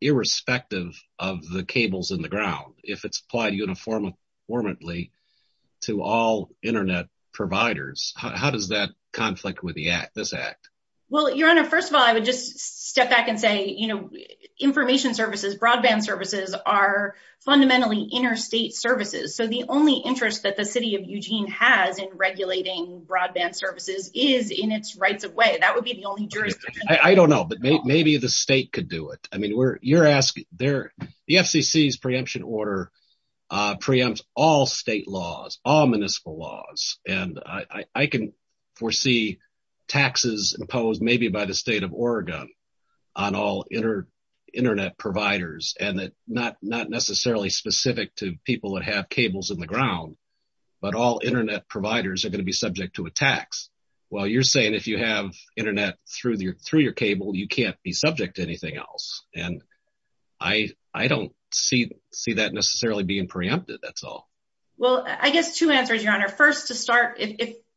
irrespective of the cables in the ground, if it's applied uniformly to all internet providers, how does that conflict with this Act? Well, Your Honor, first of all, I would just step back and say, you know, information services, broadband services are fundamentally interstate services. So, the only interest that the City of Eugene has in regulating broadband services is in its rights-of-way. That would be the only jurisdiction. I don't know, but maybe the state could do it. The FCC's preemption order preempts all state laws, all municipal laws, and I can foresee taxes imposed maybe by the State of Oregon on all internet providers, and not necessarily specific to people that have cables in the ground, but all internet providers are going to be subject to a tax. Well, you're saying if you have internet through your cable, you can't be subject to anything else, and I don't see that necessarily being preempted, that's all. Well, I guess two answers, Your Honor. First, to start,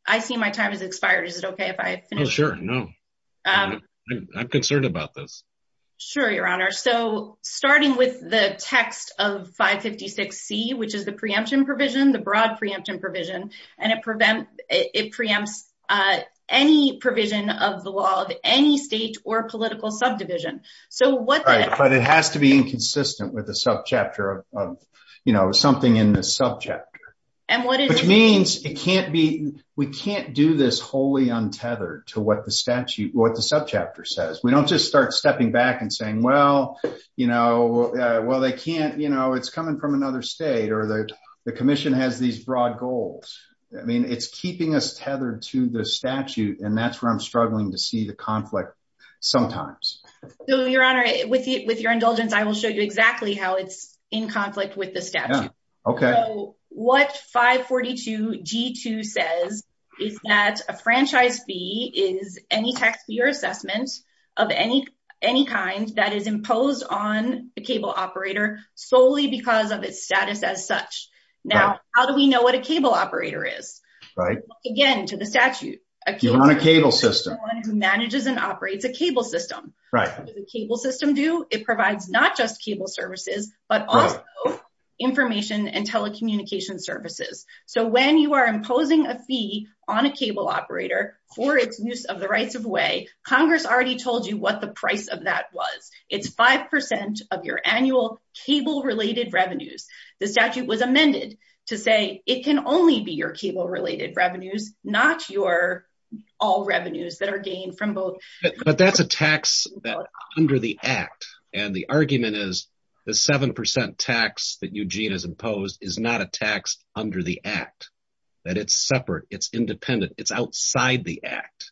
I see my time has expired. Is it okay if I finish? Oh, sure, no. I'm concerned about this. Sure, Your Honor. So, starting with the text of 556C, which is the preemption provision, the broad preemption provision, and it preempts any provision of the law of any state or political subdivision. Right, but it has to be inconsistent with the subchapter of, you know, something in the subchapter. Which means it can't be, we can't do this wholly untethered to what the statute, what the subchapter says. We don't just start stepping back and saying, well, you know, well, they can't, you know, it's coming from another state or the commission has these broad goals. I mean, it's keeping us tethered to the statute, and that's where I'm struggling to see the conflict sometimes. So, Your Honor, with your indulgence, I will show you exactly how it's in conflict with the statute. Okay. So, what 542G2 says is that a franchise fee is any taxpayer assessment of any kind that is imposed on the cable operator solely because of its status as such. Now, how do we know what a cable operator is? Again, to the statute. You want a cable system. So, the state is the one who manages and operates a cable system. What does a cable system do? It provides not just cable services, but also information and telecommunication services. So, when you are imposing a fee on a cable operator for its use of the rights of way, Congress already told you what the price of that was. It's 5% of your annual cable-related revenues. The statute was amended to say it can only be your cable-related revenues, not all revenues that are gained from both. But that's a tax under the Act, and the argument is the 7% tax that Eugene has imposed is not a tax under the Act, that it's separate, it's independent, it's outside the Act.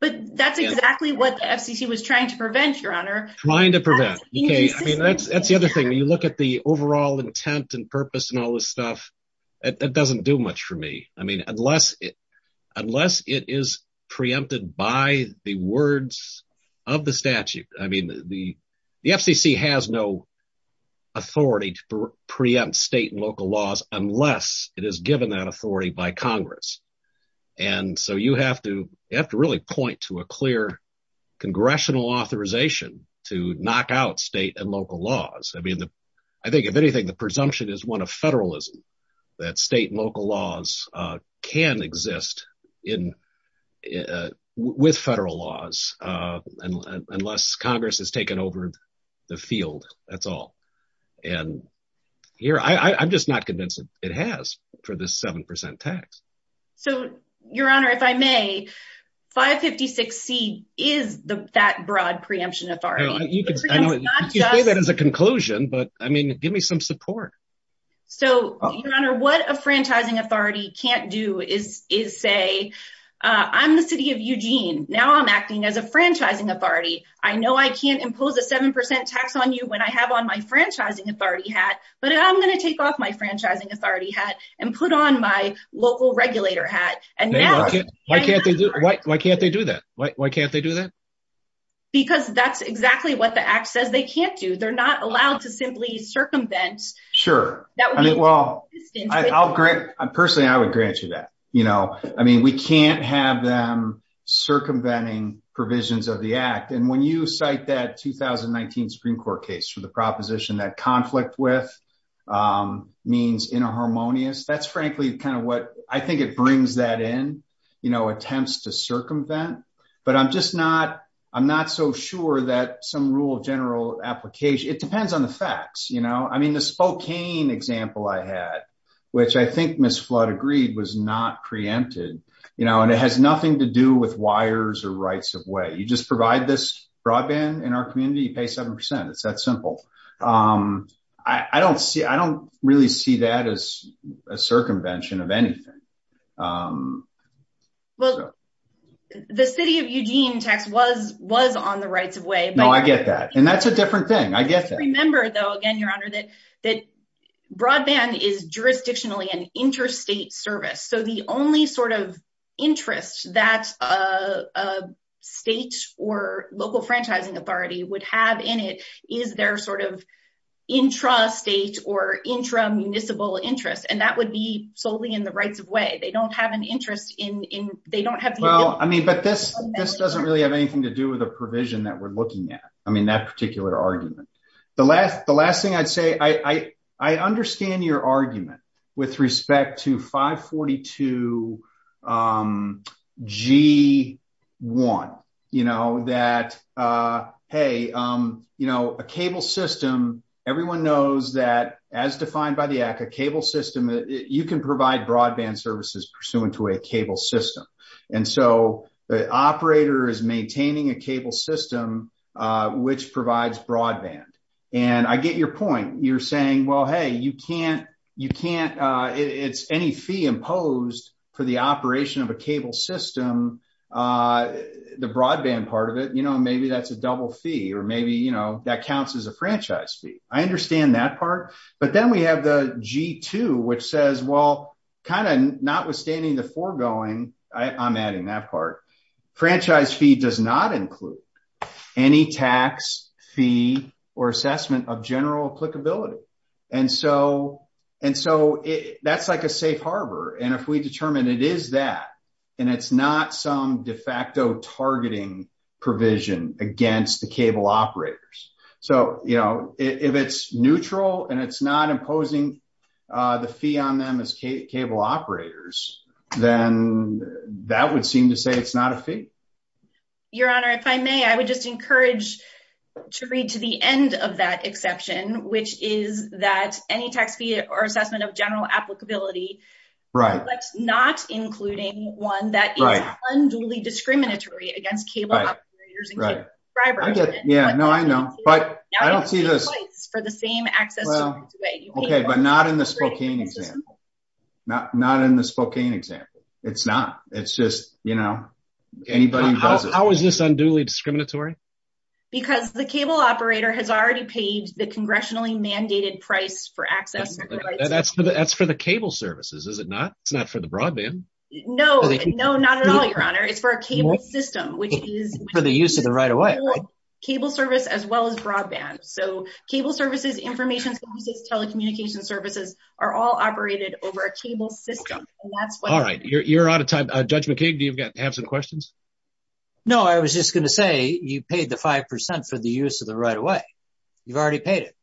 But that's exactly what the FCC was trying to prevent, Your Honor. Trying to prevent. I mean, that's the other thing. When you look at the overall intent and purpose and all this stuff, it doesn't do much for me. I mean, unless it is preempted by the words of the statute. I mean, the FCC has no authority to preempt state and local laws unless it is given that authority by Congress. And so you have to really point to a clear congressional authorization to knock out state and local laws. I mean, I think, if anything, the presumption is one of federalism, that state and local laws can exist with federal laws unless Congress has taken over the field, that's all. I'm just not convinced it has for this 7% tax. So, Your Honor, if I may, 556C is that broad preemption authority. You can say that as a conclusion, but I mean, give me some support. So, Your Honor, what a franchising authority can't do is say, I'm the city of Eugene, now I'm acting as a franchising authority. I know I can't impose a 7% tax on you when I have on my franchising authority hat, but I'm going to take off my franchising authority hat and put on my local regulator hat. Why can't they do that? Because that's exactly what the act says they can't do. They're not allowed to simply circumvent. Sure. I mean, well, I'll grant, personally, I would grant you that, you know, I mean, we can't have them circumventing provisions of the act. And when you cite that 2019 Supreme Court case for the proposition that conflict with means in a harmonious, that's frankly kind of what I think it brings that in, you know, attempts to circumvent. But I'm just not, I'm not so sure that some rule of general application, it depends on the facts. You know, I mean, the Spokane example I had, which I think Ms. Flood agreed was not preempted, you know, and it has nothing to do with wires or rights of way. You just provide this broadband in our community, you pay 7%. It's that simple. I don't see, I don't really see that as a circumvention of anything. Well, the city of Eugene tax was on the rights of way. No, I get that. And that's a different thing. I get that. I get that, Your Honor, that broadband is jurisdictionally an interstate service. So the only sort of interest that a state or local franchising authority would have in it is their sort of intrastate or intramunicipal interest. And that would be solely in the rights of way. They don't have an interest in, they don't have. Well, I mean, but this doesn't really have anything to do with a provision that we're looking at. I mean, that particular argument, the last thing I'd say, I understand your argument with respect to 542 G1, you know, that, hey, you know, a cable system. Everyone knows that as defined by the ACCA cable system, you can provide broadband services pursuant to a cable system. And so the operator is maintaining a cable system, which provides broadband. And I get your point. You're saying, well, hey, you can't, you can't, it's any fee imposed for the operation of a cable system. The broadband part of it, you know, maybe that's a double fee or maybe, you know, that counts as a franchise fee. I understand that part. But then we have the G2, which says, well, kind of notwithstanding the foregoing, I'm adding that part. Franchise fee does not include any tax fee or assessment of general applicability. And so, and so that's like a safe harbor. And if we determine it is that, and it's not some de facto targeting provision against the cable operators. So, you know, if it's neutral and it's not imposing the fee on them as cable operators, then that would seem to say it's not a fee. Your Honor, if I may, I would just encourage to read to the end of that exception, which is that any tax fee or assessment of general applicability. Not including one that is unduly discriminatory against cable operators and cable providers. Yeah, no, I know, but I don't see this. Well, okay, but not in the Spokane example. Not in the Spokane example. It's not. It's just, you know, anybody who does it. How is this unduly discriminatory? Because the cable operator has already paid the congressionally mandated price for access. That's for the cable services, is it not? It's not for the broadband? No, no, not at all, Your Honor. It's for a cable system, which is. For the use of the right-of-way. Cable service as well as broadband. So cable services, information services, telecommunication services are all operated over a cable system. All right, you're out of time. Judge McKeague, do you have some questions? No, I was just going to say you paid the 5% for the use of the right-of-way. You've already paid it.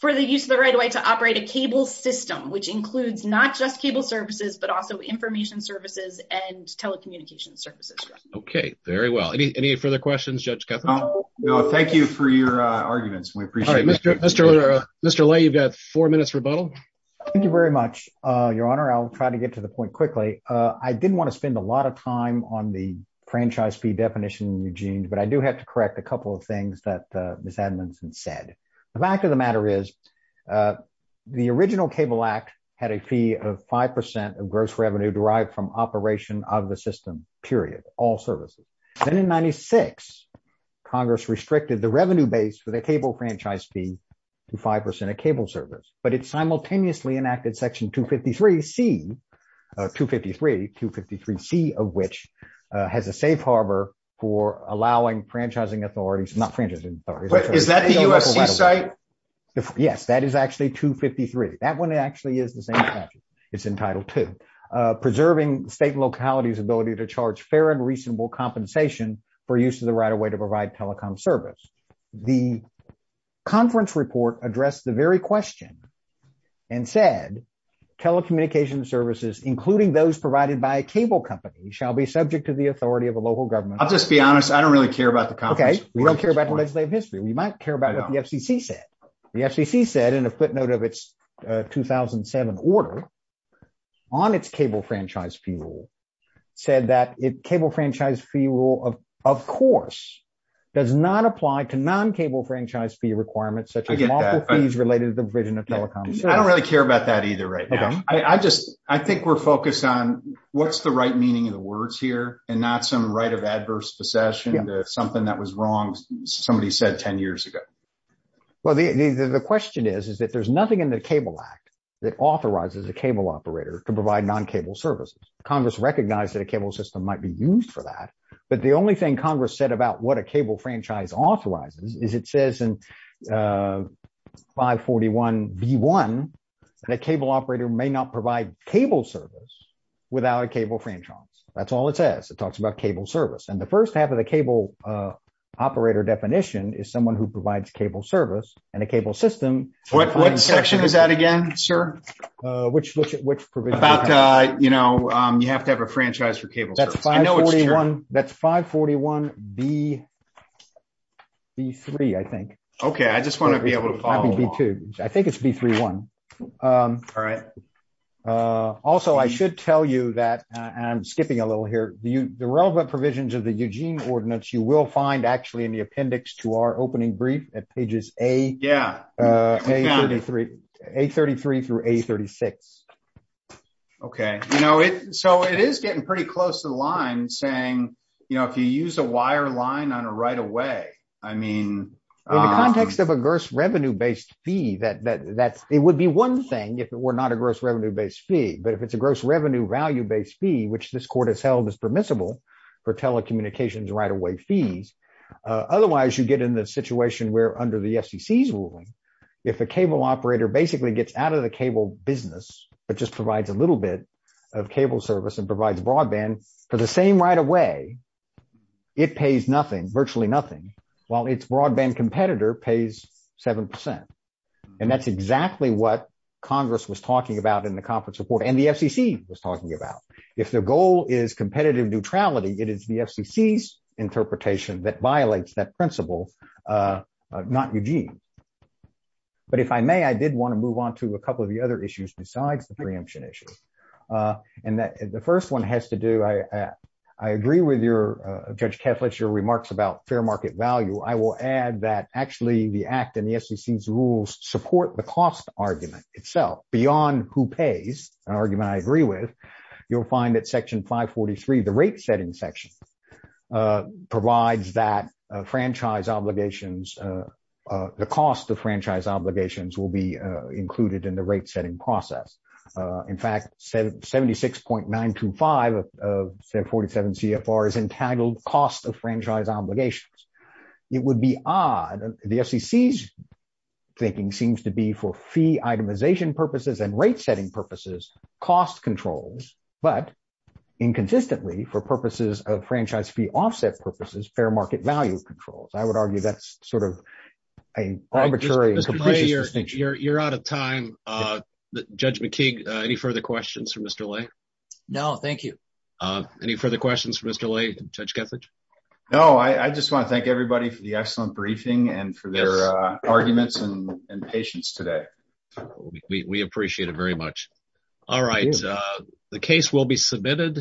For the use of the right-of-way to operate a cable system, which includes not just cable services, but also information services and telecommunication services. Okay, very well. Any further questions, Judge Ketham? No, thank you for your arguments. We appreciate it. All right, Mr. Lay, you've got four minutes rebuttal. Thank you very much, Your Honor. I'll try to get to the point quickly. I didn't want to spend a lot of time on the franchise fee definition, Eugene, but I do have to correct a couple of things that Ms. Edmondson said. The fact of the matter is, the original Cable Act had a fee of 5% of gross revenue derived from operation of the system, period, all services. Then in 1996, Congress restricted the revenue base for the cable franchise fee to 5% of cable service. But it simultaneously enacted Section 253C, 253, 253C of which has a safe harbor for allowing franchising authorities, not franchising authorities. Is that the USC site? Yes, that is actually 253. That one actually is the same statute. It's in Title II. Preserving state and locality's ability to charge fair and reasonable compensation for use of the right-of-way to provide telecom service. The conference report addressed the very question and said telecommunication services, including those provided by a cable company, shall be subject to the authority of a local government. I'll just be honest. I don't really care about the conference. Okay. We don't care about legislative history. We might care about what the FCC said. The FCC said, in a footnote of its 2007 order, on its cable franchise fee rule, said that cable franchise fee rule, of course, does not apply to non-cable franchise fee requirements such as multiple fees related to the provision of telecom service. I don't really care about that either right now. I think we're focused on what's the right meaning of the words here and not some right of adverse possession to something that was wrong somebody said 10 years ago. Well, the question is, is that there's nothing in the Cable Act that authorizes a cable operator to provide non-cable services. Congress recognized that a cable system might be used for that. But the only thing Congress said about what a cable franchise authorizes is it says in 541B1 that a cable operator may not provide cable service without a cable franchise. That's all it says. It talks about cable service. And the first half of the cable operator definition is someone who provides cable service and a cable system. What section is that again, sir? Which provision? You have to have a franchise for cable service. That's 541B3, I think. Okay, I just want to be able to follow along. I think it's 541B3. All right. Also, I should tell you that, and I'm skipping a little here, the relevant provisions of the Eugene Ordinance you will find actually in the appendix to our opening brief at pages A33 through A36. Okay, so it is getting pretty close to the line saying if you use a wire line on a right-of-way. In the context of a gross revenue-based fee, it would be one thing if it were not a gross revenue-based fee. But if it's a gross revenue value-based fee, which this court has held is permissible for telecommunications right-of-way fees. Otherwise, you get in the situation where under the FCC's ruling, if a cable operator basically gets out of the cable business, but just provides a little bit of cable service and provides broadband for the same right-of-way, it pays nothing, virtually nothing, while its broadband competitor pays 7%. And that's exactly what Congress was talking about in the conference report and the FCC was talking about. If the goal is competitive neutrality, it is the FCC's interpretation that violates that principle, not Eugene. But if I may, I did want to move on to a couple of the other issues besides the preemption issue. And the first one has to do, I agree with Judge Kethledge, your remarks about fair market value. I will add that actually the Act and the FCC's rules support the cost argument itself. Beyond who pays, an argument I agree with, you'll find that Section 543, the rate-setting section, provides that the cost of franchise obligations will be included in the rate-setting process. In fact, 76.925 of 747 CFR is entitled cost of franchise obligations. It would be odd, the FCC's thinking seems to be for fee itemization purposes and rate-setting purposes, cost controls, but inconsistently for purposes of franchise fee offset purposes, fair market value controls. I would argue that's sort of an arbitrary and capricious distinction. You're out of time. Judge McKee, any further questions for Mr. Lay? No, thank you. Any further questions for Mr. Lay, Judge Kethledge? No, I just want to thank everybody for the excellent briefing and for their arguments and patience today. We appreciate it very much. All right, the case will be submitted.